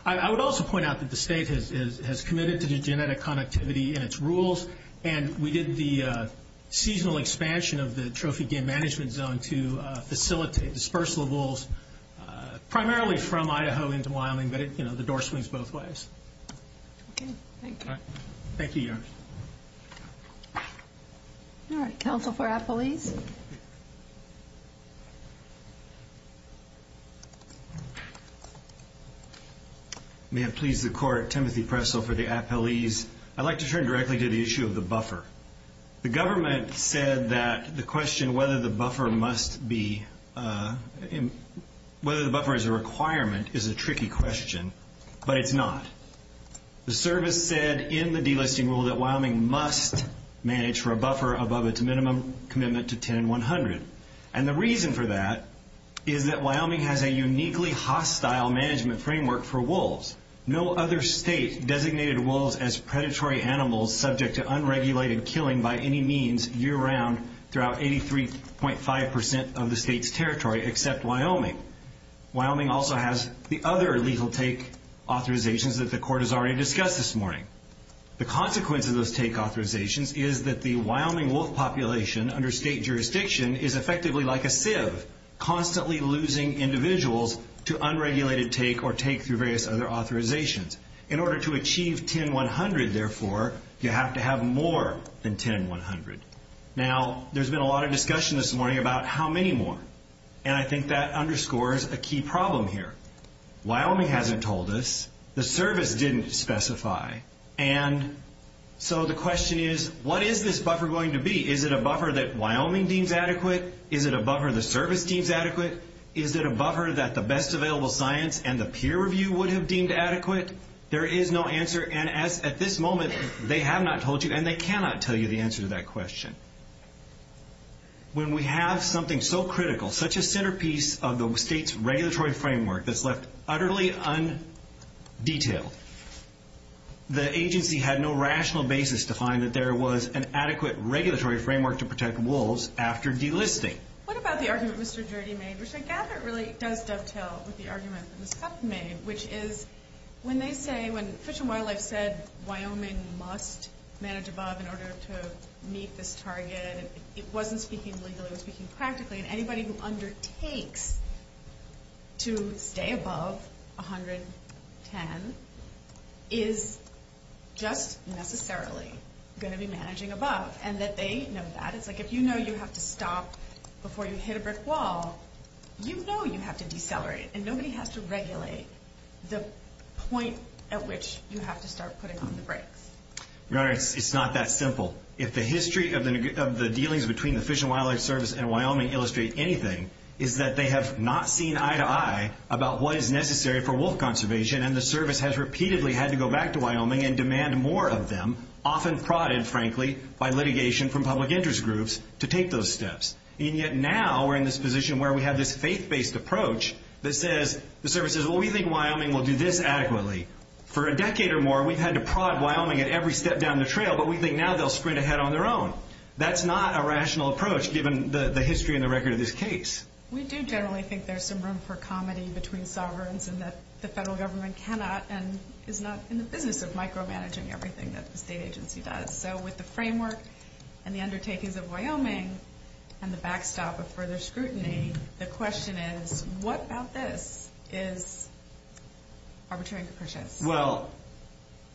I would also point out that the state has committed to genetic connectivity and its dispersal of wolves, primarily from Iaho into Wyoming, but the door swings both ways. Okay. Thank you. Thank you, Your Honor. All right. Counsel for Appalese? May it please the court, Timothy Presso for the Appalese. I'd like to turn directly to the issue of the buffer. The government said that the question whether the buffer is a requirement is a tricky question, but it's not. The service said in the delisting rule that Wyoming must manage for a buffer above its minimum commitment to 10 and 100, and the reason for that is that Wyoming has a uniquely hostile management framework for wolves. No other state designated wolves as predatory animals subject to unregulated killing by any means year-round throughout 83.5% of the state's territory except Wyoming. Wyoming also has the other lethal take authorizations that the court has already discussed this morning. The consequence of those take authorizations is that the Wyoming wolf population under state jurisdiction is effectively like a fib, constantly losing individuals to unregulated take or take through various other authorizations. In order to achieve 10, 100, therefore, you have to have more than 10, 100. Now, there's been a lot of discussion this morning about how many more, and I think that underscores a key problem here. Wyoming hasn't told us. The service didn't specify, and so the question is, what is this buffer going to be? Is it a buffer that Wyoming deems adequate? Is it a buffer the service deems adequate? Is it a buffer that the best available science and the peer review would have deemed adequate? There is no answer, and at this moment, they have not told you, and they cannot tell you the answer to that question. When we have something so critical, such a centerpiece of the state's regulatory framework that's left utterly undetailed, the agency had no rational basis to find that there was an adequate regulatory framework to protect wolves after delisting. What about the argument Mr. Dirty made, which I gather really does dovetail with the argument that was just made, which is when they say, when Fish and Wildlife said, Wyoming must manage above in order to meet this target, it wasn't speaking legally, it was speaking practically, and anybody who undertakes to stay above 110 is just necessarily going to be managing above, and that they know that. If you know you have to stop before you hit a brick wall, you know you have to decelerate, and nobody has to regulate the point at which you have to start putting on the brakes. It's not that simple. If the history of the dealings between the Fish and Wildlife Service and Wyoming illustrate anything, it's that they have not seen eye to eye about what is necessary for wolf conservation, and the service has repeatedly had to go back to Wyoming and demand more of them, often prodded, frankly, by litigation from public interest groups to take those steps, and yet now we're in this position where we have this faith-based approach that says, the service says, well, we think Wyoming will do this adequately. For a decade or more, we've had to prod Wyoming at every step down the trail, but we think now they'll sprint ahead on their own. That's not a rational approach, given the history and the record of this case. We do generally think there's some room for comedy between sovereigns and that the federal government cannot and is not in the business of micromanaging everything that the state agency does. With the framework and the undertakings of Wyoming, and the backstop of further scrutiny, the question is, what about this is arbitrary? Well,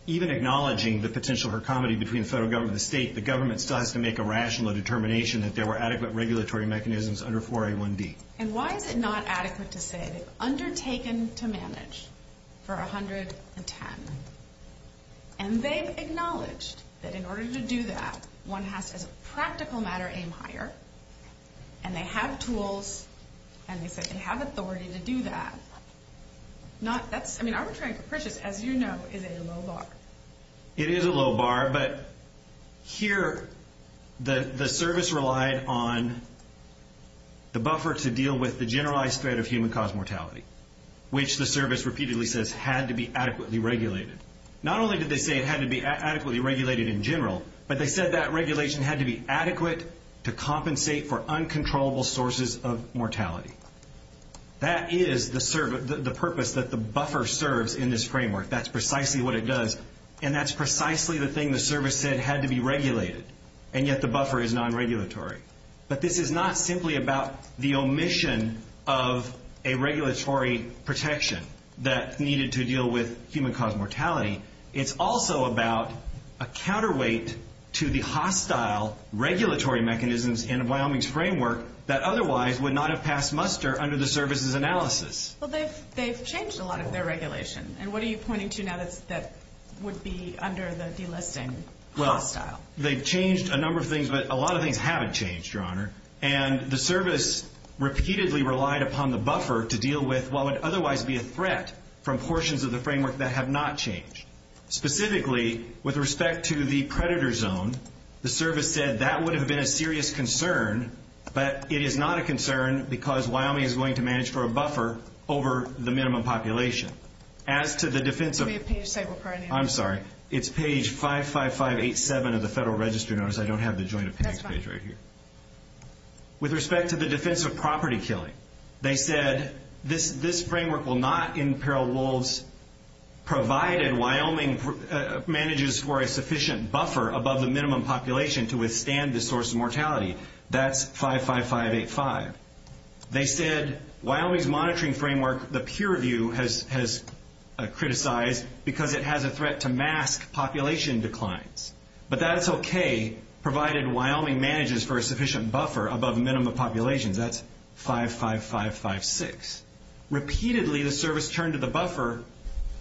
even acknowledging the potential for comedy between the federal government and the state, the government decides to make a rational determination that there were adequate regulatory mechanisms under 4A1B. Why is it not adequate to say it's undertaken to manage for 110? And they've acknowledged that in order to do that, one has to, in a practical matter, aim higher, and they have tools, and they have authority to do that. I mean, arbitrary approaches, as you know, is in a low bar. It is a low bar, but here, the service relied on the buffer to deal with the generalized threat of human-caused mortality, which the service repeatedly says had to be adequately regulated. Not only did they say it had to be adequately regulated in general, but they said that regulation had to be adequate to compensate for uncontrollable sources of mortality. That is the purpose that the buffer serves in this framework. That's precisely what it does, and that's precisely the thing the service said had to be regulated, and yet the buffer is non-regulatory. But this is not simply about the omission of a regulatory protection that's needed to deal with human-caused mortality. It's also about a counterweight to the hostile regulatory mechanisms in Wyoming's framework that otherwise would not have passed muster under the service's analysis. Well, they've changed a lot of their regulation, and what are you pointing to now that would be under the delisting? Well, they've changed a number of things, but a lot of things haven't changed, Your Honor, and the service repeatedly relied upon the buffer to deal with what would otherwise be a threat from portions of the framework that have not changed. Specifically, with respect to the predator zone, the service said that would have been a serious concern, but it is not a concern because Wyoming is going to manage for a buffer over the minimum population. I'm sorry. It's page 55587 of the Federal Registry Notice. I don't have the Joint Appearance Page right here. With respect to the defense of property killing, they said this framework will not imperil wolves provided Wyoming manages for a sufficient buffer above the minimum population to withstand the source of mortality. That's 55585. They said Wyoming's monitoring framework, the peer review has criticized because it has a threat to mask population declines, but that's okay provided Wyoming manages for a sufficient buffer above the minimum population. That's 55556. Repeatedly, the service turned to the buffer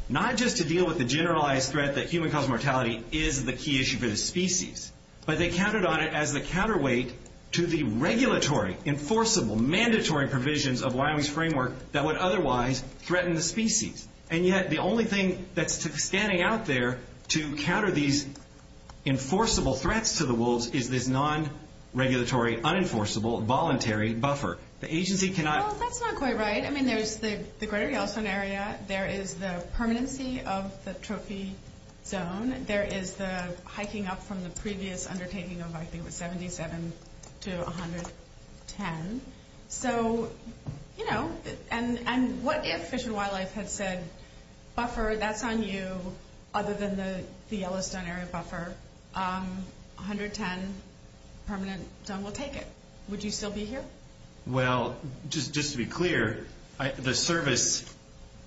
not just to deal with the generalized threat that human-caused mortality is the key issue for the species, but they counted on it as a counterweight to the regulatory, enforceable, mandatory provisions of Wyoming's framework that would otherwise threaten the species. Yet, the only thing that's standing out there to counter these enforceable threats to the wolves is this non-regulatory, unenforceable, voluntary buffer. The agency cannot- That's not quite right. There's the greater Yellowstone area. There is the permanency of the trophy zone. There is the hiking up from the previous undertaking of hiking with 77 to 110. What if Fish and Wildlife had said, buffer, that's on you, other than the Yellowstone area buffer, 110 permanent zone, we'll take it. Would you still be here? Well, just to be clear, the service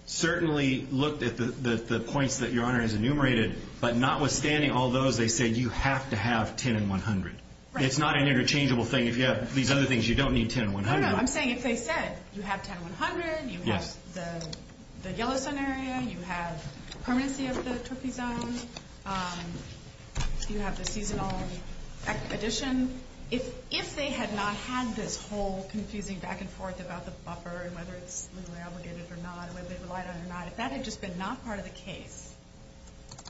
certainly looked at the points that your honor has enumerated, but notwithstanding all those, they said you have to have 10 and 100. Right. It's not an interchangeable thing. If you have these other things, you don't need 10 and 100. No, no. I'm saying if they said, you have 10 and 100, you have the Yellowstone area, you have permanency of the trophy zone, you have the season-only expedition, if they had not had this whole confusing back and forth about this buffer and whether it's legally obligated or not, whether there's a light on or not, if that had just been not part of the case,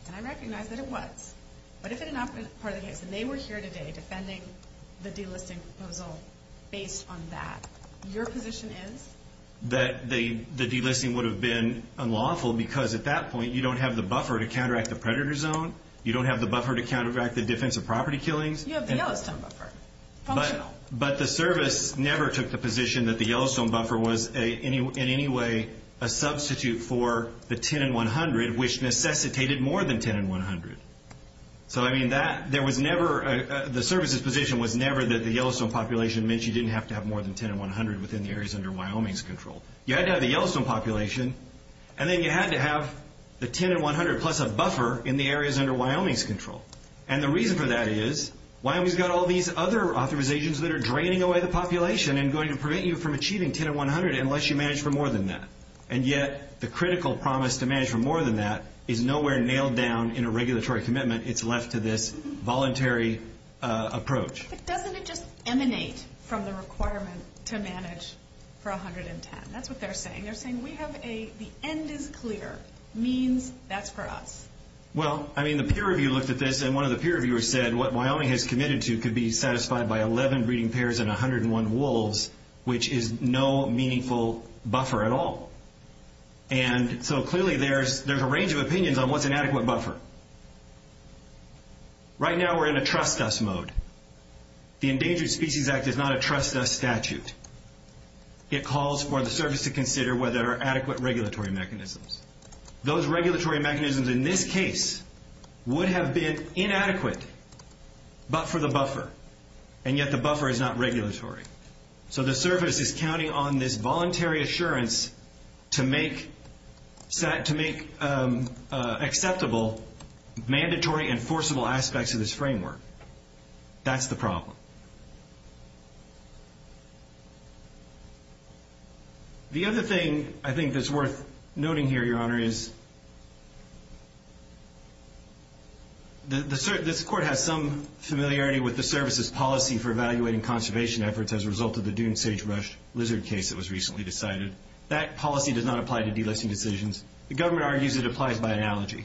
and I recognize that it was, but if it had not been part of the case, and they were here today defending the delisting proposal based on that, your position is? That the delisting would have been unlawful because at that point, you don't have the buffer to counteract the predator zone. You don't have the buffer to counteract the defensive property killings. You have the Yellowstone buffer. But the service never took the position that the Yellowstone buffer was in any way a substitute for the 10 and 100, which necessitated more than 10 and 100. So, I mean, that, there was never, the service's position was never that the Yellowstone population meant you didn't have to have more than 10 and 100 within the areas under Wyoming's control. You had to have the Yellowstone population, and then you had to have the 10 and 100 plus a buffer in the areas under Wyoming's control. And the reason for that is, why have we got all these other authorizations that are draining away the population and going to prevent you from achieving 10 and 100 unless you manage for more than that? And yet, the critical promise to manage for more than that is nowhere nailed down in a regulatory commitment. It's left to this voluntary approach. But doesn't it just emanate from the requirement to manage for 110? That's what they're saying. They're saying we have a, the end is clear. Means, that's for us. Well, I mean, the peer review looked at this, and one of the peer reviewers said what Wyoming has committed to could be satisfied by 11 breeding pairs and 101 wolves, which is no meaningful buffer at all. And so, clearly, there's a range of opinions on what's an adequate buffer. Right now, we're in a trust us mode. The Endangered Species Act is not a trust us statute. It calls for the service to consider whether there are adequate regulatory mechanisms. Those regulatory mechanisms, in this case, would have been inadequate but for the buffer. And yet, the buffer is not regulatory. So, the service is counting on this voluntary assurance to make accessible mandatory and forcible aspects of this framework. That's the problem. The other thing I think that's worth noting here, Your Honor, is this court has some familiarity with the service's policy for evaluating conservation efforts as a result of the dune sagebrush lizard case that was recently decided. That policy does not apply to delisting decisions. The government argues it applies by analogy.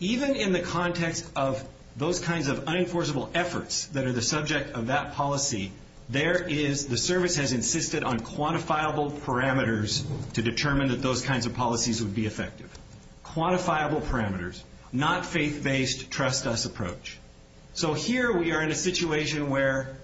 Even in the context of those kinds of unenforceable efforts that are the subject of that policy, there is, the service has insisted on quantifiable parameters to determine that those kinds of policies would be effective. Quantifiable parameters, not faith-based trust us approach. So, here we are in a situation where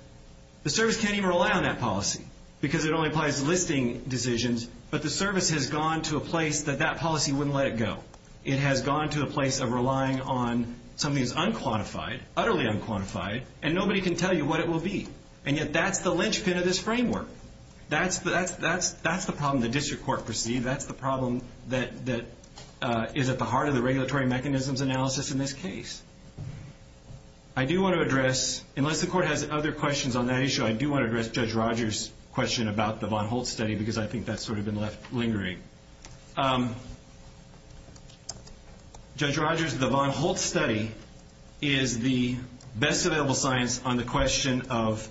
the service can't even rely on that policy because it only applies to listing decisions, but the service has gone to a place that that policy wouldn't let it go. It has gone to a place of relying on something that's unquantified, utterly unquantified, and nobody can tell you what it will be. And yet, that's the linchpin of this framework. That's the problem the district court perceives. That's the problem that is at the heart of the regulatory mechanisms analysis in this case. I do want to address, unless the court has other questions on that issue, I do want to address Judge Rogers' bond hold study is the best available science on the question of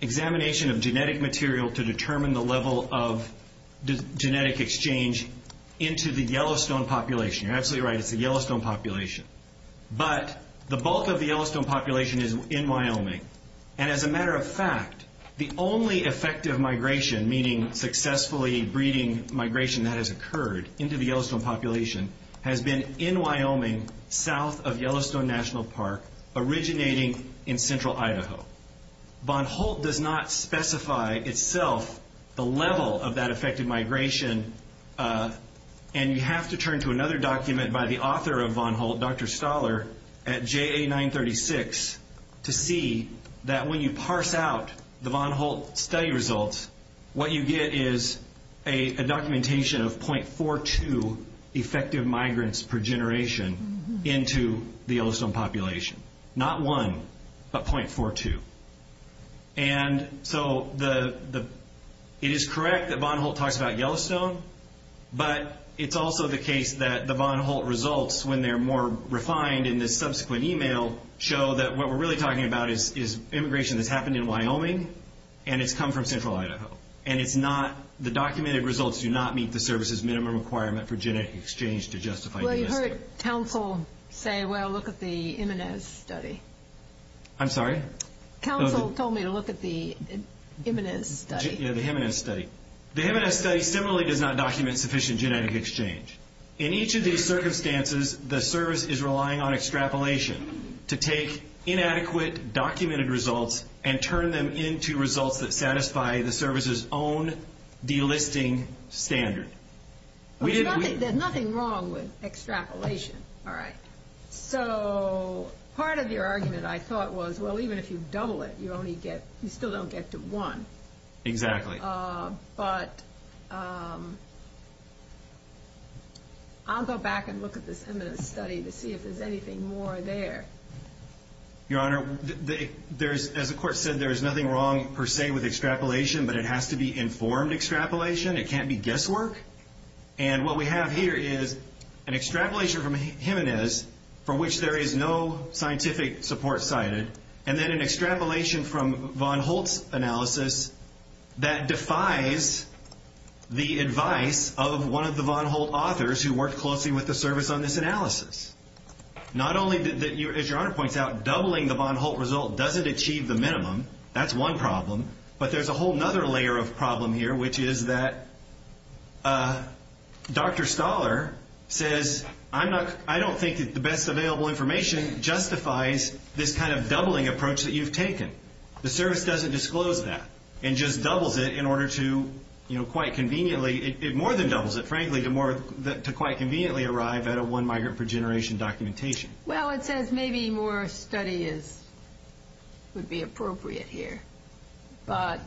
examination of genetic material to determine the level of genetic exchange into the Yellowstone population. You're absolutely right, it's the Yellowstone population. But the bulk of the Yellowstone population is in Wyoming. And as a matter of fact, the only effective migration, meaning successfully breeding migration that has occurred into the Yellowstone population, has been in Wyoming, south of Yellowstone National Park, originating in central Idaho. Bond hold does not specify itself the level of that effective migration, and you have to turn to another that when you parse out the bond hold study results, what you get is a documentation of .42 effective migrants per generation into the Yellowstone population. Not one, but .42. And so it is correct that bond hold talks about Yellowstone, but it's also the case that the bond hold results, when they're more refined in the subsequent email, show that what we're really talking about is immigration that's happened in Wyoming, and it's come from central Idaho. And it's not, the documented results do not meet the service's minimum requirement for genetic exchange to justify... Well, you heard counsel say, well, look at the Imanez study. I'm sorry? Counsel told me to look at the Imanez study. Yeah, the Imanez study. The Imanez study similarly does not document sufficient genetic exchange. In each of these circumstances, the service is relying on extrapolation to take inadequate documented results and turn them into results that satisfy the service's own delisting standard. There's nothing wrong with extrapolation. All right. So part of your argument, I thought, was, well, even if you double it, you still don't get to one. Exactly. But I'll go back and look at this Imanez study to see if there's anything more there. Your Honor, as the court said, there is nothing wrong per se with extrapolation, but it has to be informed extrapolation. It can't be guesswork. And what we have here is an extrapolation from Imanez from which there is no scientific support cited, and then an extrapolation that defies the advice of one of the Von Holt authors who worked closely with the service on this analysis. Not only that, as Your Honor points out, doubling the Von Holt result doesn't achieve the minimum. That's one problem. But there's a whole other layer of problem here, which is that Dr. Stahler says, I don't think the best available information justifies this kind of doubling approach that you've taken. The service doesn't disclose that and just doubles it in order to, you know, quite conveniently. It more than doubles it, frankly, to quite conveniently arrive at a one-migrant-per-generation documentation. Well, it says maybe more study would be appropriate here. But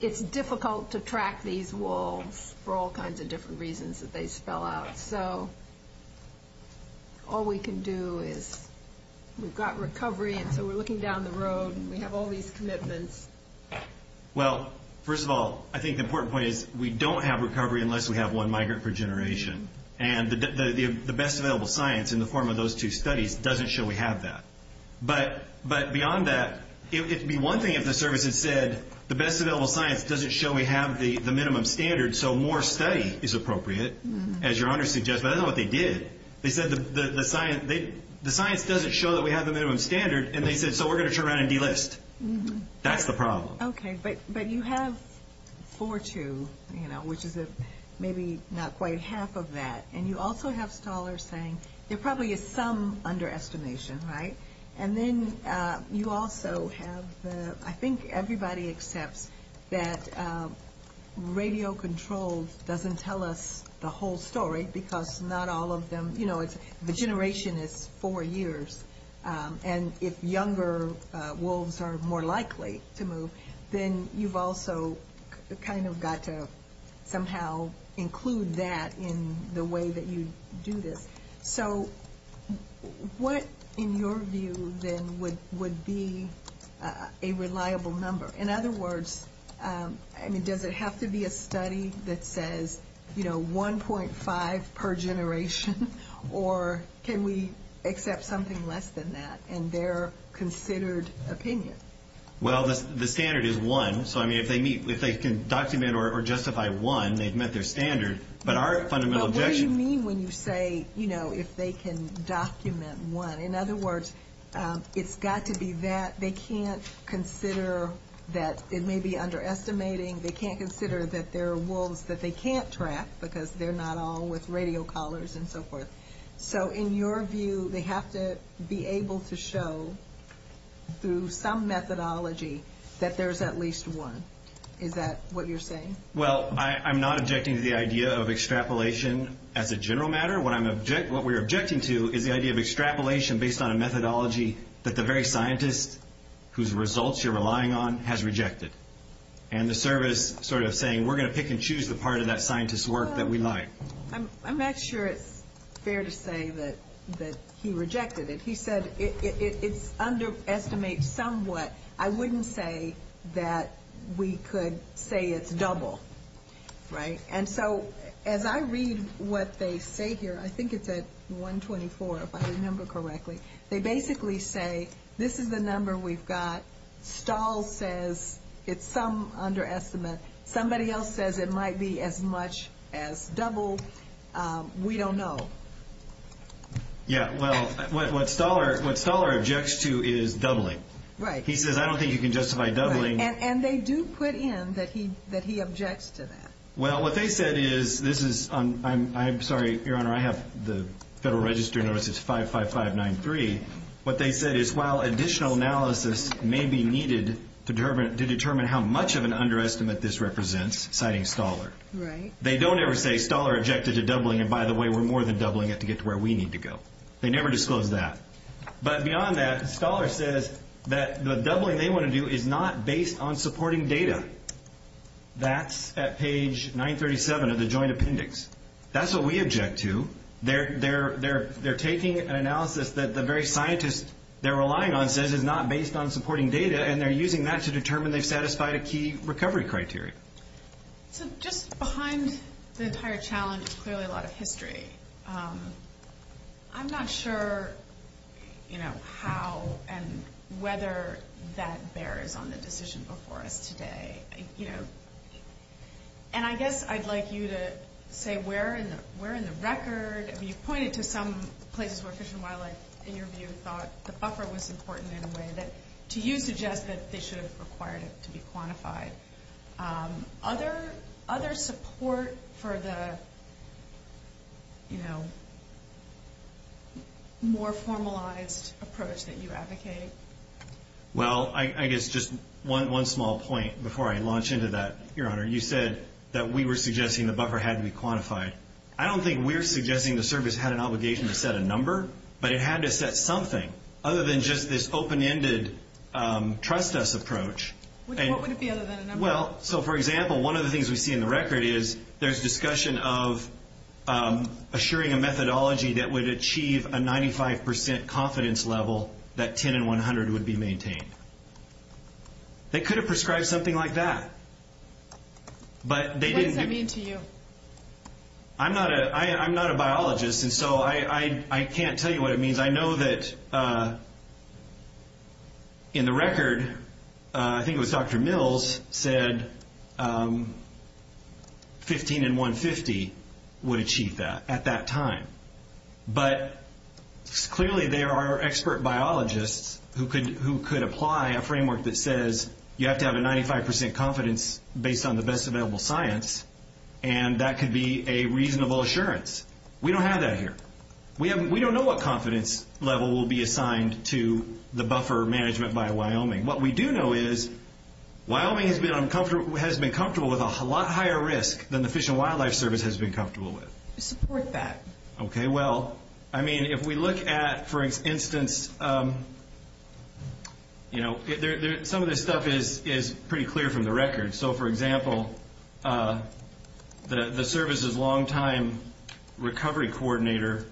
it's difficult to track these walls for all kinds of different reasons that they spell out. So all we can do is we've got recovery, and so we're looking down the road, and we have all these commitments. Well, first of all, I think the important point is we don't have recovery unless we have one-migrant-per-generation. And the best available science in the form of those two studies doesn't show we have that. But beyond that, it would be one thing if the service had said the best available science doesn't show we have the minimum standard, so more study is appropriate, as your honor suggests. But I don't know what they did. They said the science doesn't show that we have the minimum standard, and they said, so we're going to turn around and delist. That's the problem. Okay. But you have 4-2, you know, which is maybe not quite half of that. And you also have Stahler saying there probably is some underestimation, right? And then you also have the, I think everybody accepts that radio control doesn't tell us the whole story because not all of them, you know, the generation is four years, and if younger wolves are more likely to move, then you've also kind of got to somehow include that in the way that you do this. So what, in your view, then, would be a reliable number? In other words, I mean, does it have to be a study that says, you know, 1.5 per generation, or can we accept something less than that in their considered opinion? Well, the standard is one. So, I mean, if they can document or justify one, they've met their standard. But what do you mean when you say, you know, if they can document one? In other words, it's got to be that they can't consider that it may be underestimating. They can't consider that there are wolves that they can't track because they're not all with radio collars and so forth. So, in your view, they have to be able to show through some methodology that there's at least one. Is that what you're saying? Well, I'm not objecting to the idea of extrapolation as a general matter. What we're objecting to is the idea of extrapolation based on a methodology that the very scientist whose results you're relying on has rejected. And the survey is sort of saying we're going to pick and choose the part of that scientist's work that we like. I'm not sure it's fair to say that he rejected it. He said it underestimates somewhat. I wouldn't say that we could say it's double. Right. And so, as I read what they say here, I think it's at 124 if I remember correctly. They basically say this is the number we've got. Stahl says it's some underestimate. Somebody else says it might be as much as double. We don't know. Yeah, well, what Stahler objects to is doubling. Right. He says I don't think you can justify doubling. And they do put in that he objects to that. Well, what they said is, this is, I'm sorry, Your Honor, I have the Federal Register notice. It's 55593. What they said is while additional analysis may be needed to determine how much of an underestimate this represents, citing Stahler. Right. They don't ever say Stahler objected to doubling and, by the way, we're more than doubling it to get to where we need to go. They never disclose that. But beyond that, Stahler says that the doubling they want to do is not based on supporting data. That's at page 937 of the joint appendix. That's what we object to. They're taking an analysis that the very scientist they're relying on says is not based on supporting data, and they're using that to determine they satisfy a key recovery criteria. So just behind the entire challenge is clearly a lot of history. I'm not sure, you know, how and whether that bears on this decision before us today. You know, and I guess I'd like you to say where in the record have you pointed to some places where Fish and Wildlife in your view thought the buffer was important in a way that you suggest that Fish is required to be quantified. Other support for the, you know, more formalized approach that you advocate? Well, I guess just one small point before I launch into that. Your Honor, you said that we were suggesting the buffer had to be quantified. I don't think we're suggesting the service had an obligation to set a number, but it had to set something other than just this open-ended trust us approach. What would it be other than a number? Well, so for example, one of the things we see in the record is there's discussion of assuring a methodology that would achieve a 95% confidence level that 10 and 100 would be maintained. They could have prescribed something like that. What does that mean to you? I'm not a biologist, and so I can't tell you what it means. I know that in the record, I think it was Dr. Mills said 15 and 150 would achieve that at that time. But clearly there are expert biologists who could apply a framework that says you have to have a 95% confidence based on the best available science, and that could be a reasonable assurance. We don't have that here. We don't know what confidence level will be assigned to the buffer management by Wyoming. What we do know is Wyoming has been comfortable with a lot higher risk than the Fish and Wildlife Service has been comfortable with. Support that. Okay, well, I mean if we look at, for instance, you know, some of this stuff is pretty clear from the record. So, for example, the service's longtime recovery coordinator,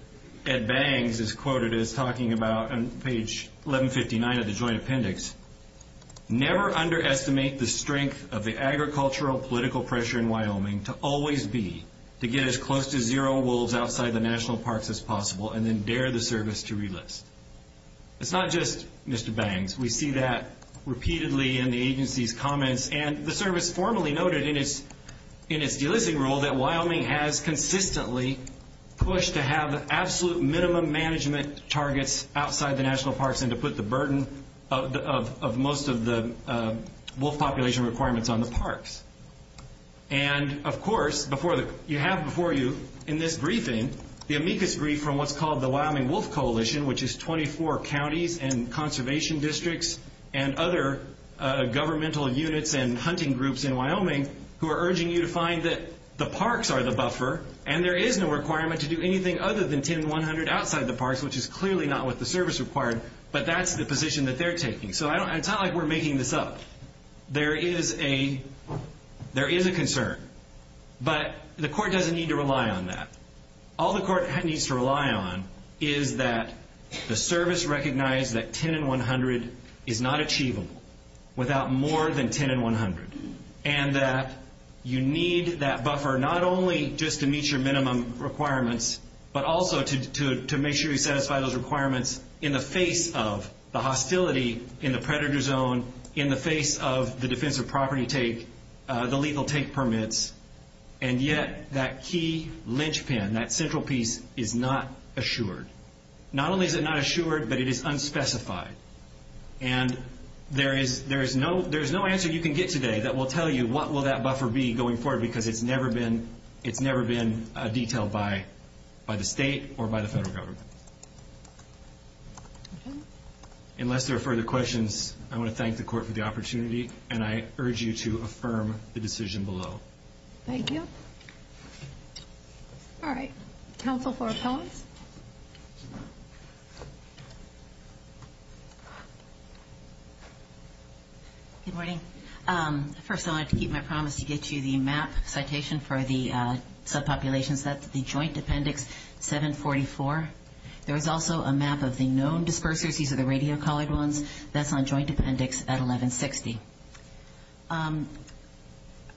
Ed Bangs, is quoted as talking about on page 1159 of the joint appendix, never underestimate the strength of the agricultural political pressure in Wyoming to always be to get as close to zero wolves outside the national parks as possible and then dare the service to release. It's not just Mr. Bangs. We see that repeatedly in the agency's comments, and the service formally noted in its delisting rule that Wyoming has consistently pushed to have absolute minimum management targets outside the national parks and to put the burden of most of the wolf population requirements on the parks. And, of course, you have before you in this briefing the amicus brief from what's called the Wyoming Wolf Coalition, which is 24 counties and conservation districts and other governmental units and hunting groups in Wyoming who are urging you to find that the parks are the buffer and there is no requirement to do anything other than 10 and 100 outside the parks, which is clearly not what the service required, but that's the position that they're taking. So it's not like we're making this up. There is a concern, but the court doesn't need to rely on that. All the court needs to rely on is that the service recognize that 10 and 100 is not achievable without more than 10 and 100 and that you need that buffer not only just to meet your minimum requirements, but also to make sure you satisfy those requirements in the face of the hostility in the predator zone, in the face of the defensive property take, the legal take permits, and yet that key linchpin, that central piece, is not assured. Not only is it not assured, but it is unspecified. And there is no answer you can get today that will tell you what will that buffer be going forward because it's never been detailed by the state or by the federal government. Unless there are further questions, I'm going to thank the court for the opportunity and I urge you to affirm the decision below. Thank you. All right. Counsel for appellants. Good morning. First of all, I'd like to keep my promise to get you the map citation for the subpopulations. That's the joint appendix 744. There is also a map of the known dispersion. These are the radio collared ones. That's on joint appendix at 1160.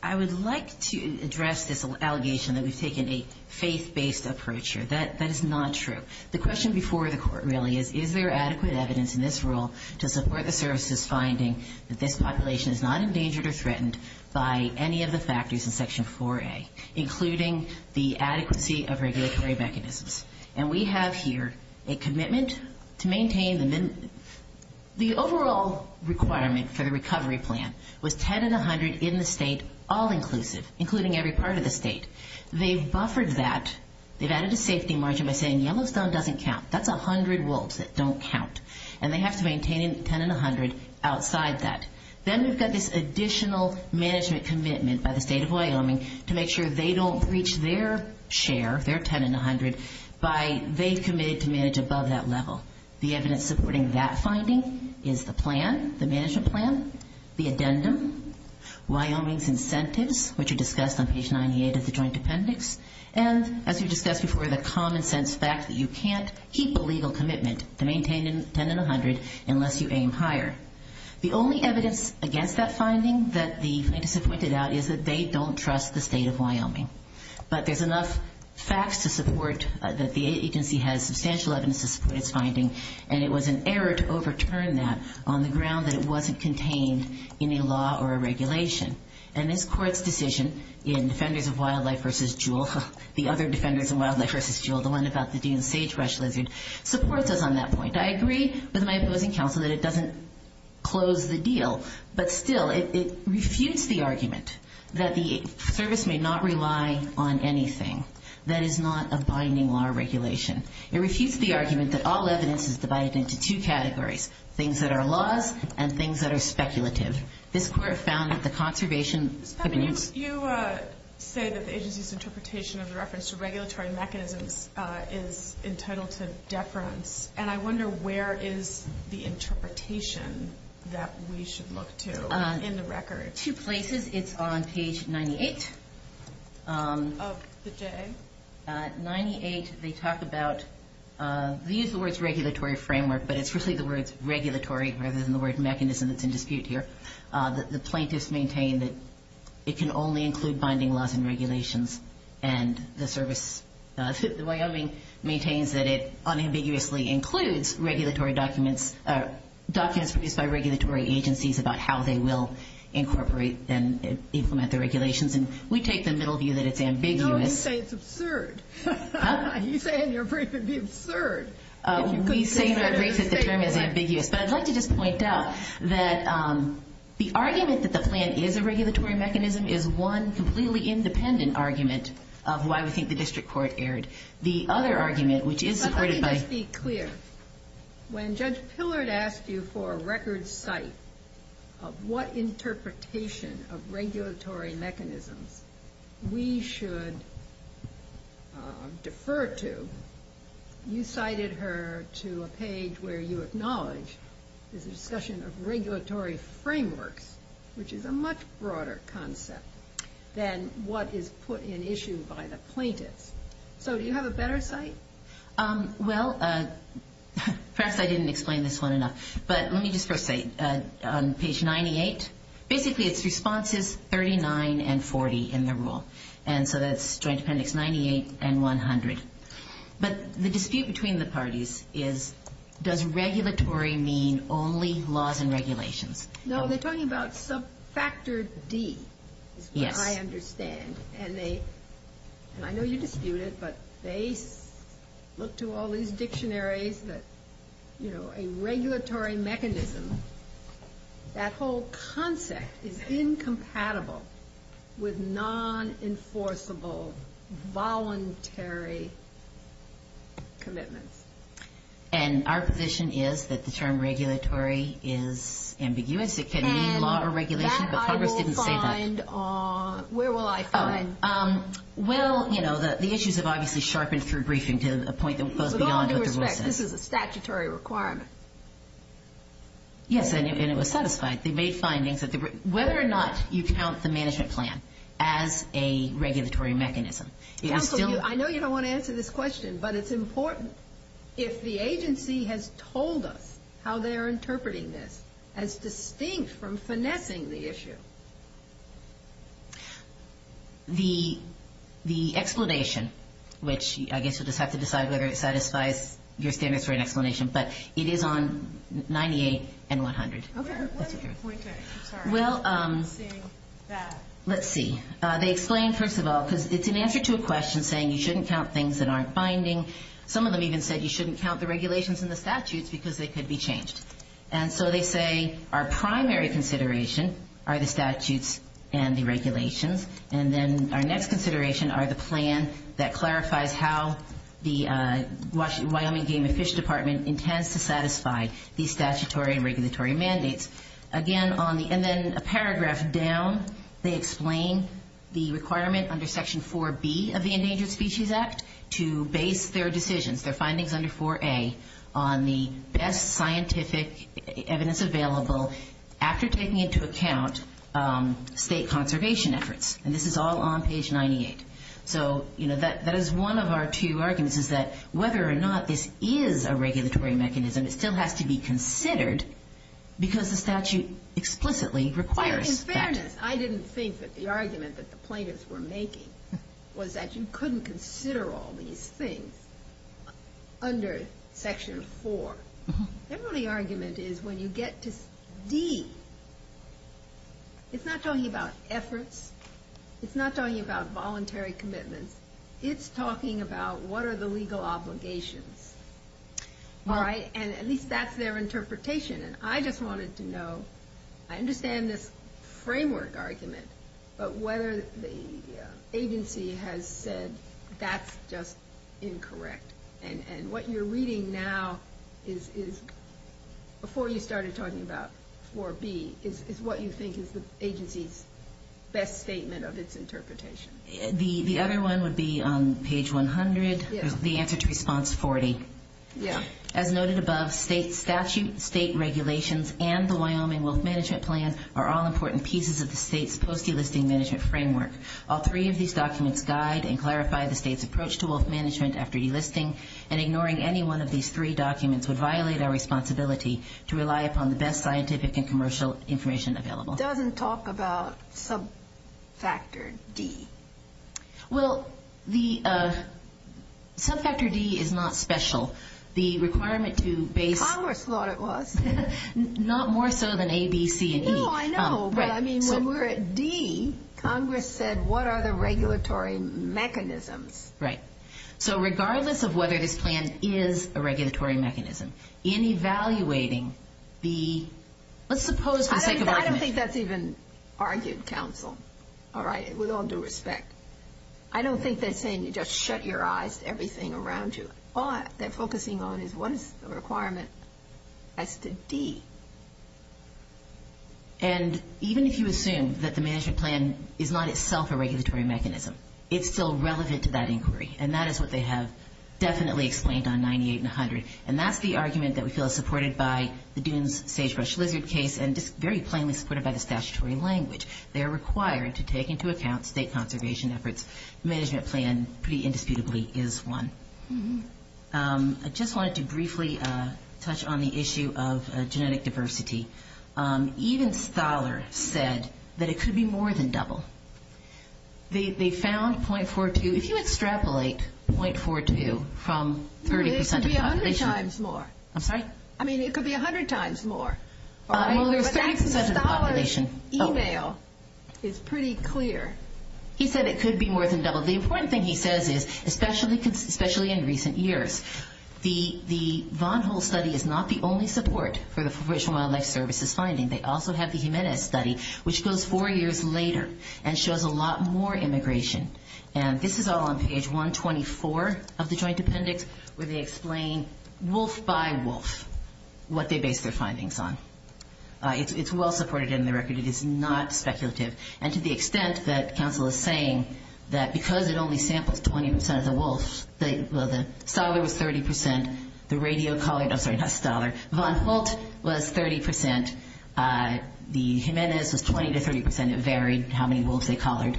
I would like to address this allegation that we've taken a faith-based approach here. That is not true. The question before the court really is, is there adequate evidence in this rule to support a therapist's finding that this population is not endangered or threatened by any of the factors in Section 4A, including the adequacy of regulatory mechanisms? And we have here a commitment to maintain the minimum. The overall requirement for the recovery plan was 10 in the 100 in the state, all inclusive, including every part of the state. They've buffered that. They've added a safety margin by saying Yellowstone doesn't count. That's 100 wolves that don't count. And they have to maintain 10 in the 100 outside that. Then we've got this additional management commitment by the state of Wyoming to make sure they don't breach their share, their 10 in the 100, by they committed to manage above that level. The evidence supporting that finding is the plan, the management plan, the addendum, Wyoming's incentives, which are discussed on page 98 of the joint appendix, and, as we've discussed before, the common sense fact that you can't keep a legal commitment to maintain 10 in the 100 unless you aim higher. The only evidence against that finding that the plaintiffs have pointed out is that they don't trust the state of Wyoming. But there's enough facts to support that the agency has substantial evidence to support its finding, and it was an error to overturn that on the ground that it wasn't contained in a law or a regulation. And this court's decision in Defenders of Wildlife v. Jewell, the other Defenders of Wildlife v. Jewell, the one about the gene sagebrush lizard, supports us on that point. I agree with my opposing counsel that it doesn't close the deal, but, still, it refutes the argument that the service may not rely on anything that is not a binding law or regulation. It refutes the argument that all evidence is divided into two categories, things that are laws and things that are speculative. This court found that the conservation of animals- You say that the agency's interpretation of the reference to regulatory mechanisms is entitled to deference, and I wonder where is the interpretation that we should look to in the record? Two places. It's on page 98. Of the day? 98, they talk about- they use the words regulatory framework, but it's really the words regulatory rather than the word mechanism that's in dispute here. The plaintiffs maintain that it can only include binding laws and regulations and the service- Wyoming maintains that it unambiguously includes regulatory documents, documents produced by regulatory agencies about how they will incorporate and implement the regulations, and we take the middle view that it's ambiguous- No, you say it's absurd. Huh? You say in your brief it'd be absurd. We say that the term is ambiguous, but I'd like to just point out that the argument that the plan is a regulatory mechanism is one completely independent argument of why we think the district court erred. The other argument, which is- Let me just be clear. When Judge Pillard asked you for a record cite of what interpretation of regulatory mechanisms we should defer to, you cited her to a page where you acknowledged the discussion of regulatory framework, which is a much broader concept than what is put in issue by the plaintiffs. So do you have a better cite? Well, perhaps I didn't explain this one enough, but let me just first say on page 98, basically it's responses 39 and 40 in the rule, and so that's Joint Appendix 98 and 100, but the dispute between the parties is does regulatory mean only laws and regulations? No, they're talking about sub-factor D, which I understand, and I know you dispute it, but they look to all these dictionaries that, you know, a regulatory mechanism, that whole concept is incompatible with non-enforceable voluntary commitment. And our position is that the term regulatory is ambiguous. It can mean a lot of regulations, but Pillard didn't say that. And that I will find on- where will I find- Well, you know, the issues have obviously sharpened through briefings to a point that goes beyond what the rule says. With all due respect, this is a statutory requirement. Yes, and it was satisfied. They made findings that- whether or not you count the management plan as a regulatory mechanism. I know you don't want to answer this question, but it's important if the agency has told us how they're interpreting this as distinct from finessing the issue. The explanation, which I guess you'll just have to decide whether it satisfies your statutory explanation, but it is on 98 and 100. Okay. Well, let's see. They explain, first of all, because it's in answer to a question saying you shouldn't count things that aren't binding. Some of them even said you shouldn't count the regulations and the statutes because they could be changed. And so they say our primary consideration are the statutes and the regulations. And then our next consideration are the plan that clarifies how the Wyoming Game and Fish Department intends to satisfy these statutory and regulatory mandates. And then a paragraph down, they explain the requirement under Section 4B of the Endangered Species Act to base their decisions, their findings under 4A, on the best scientific evidence available after taking into account state conservation efforts. And this is all on page 98. So that is one of our two arguments is that whether or not this is a regulatory mechanism, it still has to be considered because the statute explicitly requires that. In fairness, I didn't think that the argument that the plaintiffs were making was that you couldn't consider all these things under Section 4. The only argument is when you get to D, it's not talking about efforts. It's not talking about voluntary commitments. It's talking about what are the legal obligations. And at least that's their interpretation. And I just wanted to know, I understand this framework argument, but whether the agency has said that's just incorrect. And what you're reading now is, before you started talking about 4B, is what you think is the agency's best statement of its interpretation. The other one would be on page 100, the answer to response 40. As noted above, statute, state regulations, and the Wyoming Wealth Management Plan are all important pieces of the state's post-e-listing management framework. All three of these documents guide and clarify the state's approach to wealth management after e-listing, and ignoring any one of these three documents would violate our responsibility to rely upon the best scientific and commercial information available. It doesn't talk about sub-factor D. Well, the sub-factor D is not special. The requirement to base... Congress thought it was. Not more so than A, B, C, and D. No, I know, but I mean, when we were at D, Congress said, what are the regulatory mechanisms? Right. So regardless of whether the plan is a regulatory mechanism, in evaluating the... I don't think that's even argued, counsel. All right? With all due respect. I don't think they're saying you just shut your eyes to everything around you. All they're focusing on is what is the requirement as to D. And even if you assume that the management plan is not itself a regulatory mechanism, it's still relevant to that inquiry, and that is what they have definitely explained on 98 and 100, and that's the argument that we feel is supported by the Dooms-Sagebrush-Lizard case and is very plainly supported by the statutory language. They are required to take into account state conservation efforts. The management plan pretty indisputably is one. I just wanted to briefly touch on the issue of genetic diversity. Even Stahler said that it could be more than double. They found 0.42. If you extrapolate 0.42 from 30% of population... It could be 100 times more. I'm sorry? Stahler's e-mail is pretty clear. He said it could be more than double. The important thing he says is, especially in recent years, the Von Hull study is not the only support for the Fish and Wildlife Service's finding. They also have the Jimenez study, which goes four years later and shows a lot more immigration. And this is all on page 124 of the joint appendix, where they explain wolf by wolf what they base their findings on. It's well supported in the record. It is not speculative. And to the extent that counsel is saying that because it only sampled 20% of the wolves, Stahler was 30%, the radio collared... Oh, sorry, not Stahler. Von Hull was 30%, the Jimenez was 20% to 30%. It varied how many wolves they collared.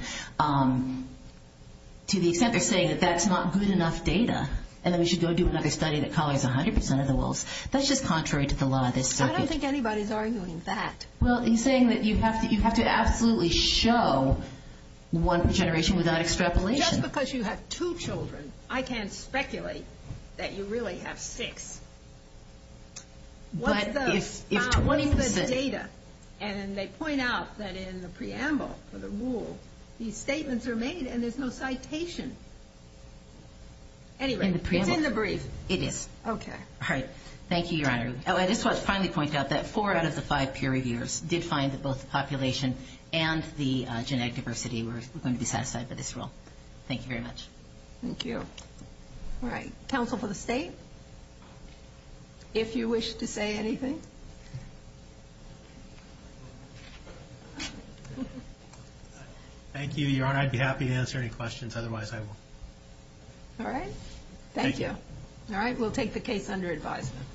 To the extent they're saying that that's not good enough data and that we should go do another study that collars 100% of the wolves, that's just contrary to the law. I don't think anybody's arguing that. Well, he's saying that you have to absolutely show one generation without extrapolation. Just because you have two children, I can't speculate that you really have six. But it's 20%. And they point out that in the preamble for the rules, these statements are made and there's no citation. In the preamble? It's in the brief. It is. Okay. All right. Thank you, Your Honor. I just want to finally point out that four out of the five peer reviewers did find that both the population and the genetic diversity were going to be satisfied with this rule. Thank you very much. Thank you. All right. Counsel for the state, if you wish to say anything. Thank you, Your Honor. Your Honor, I'd be happy to answer any questions. Otherwise, I won't. All right. Thank you. All right. We'll take the case under advisement.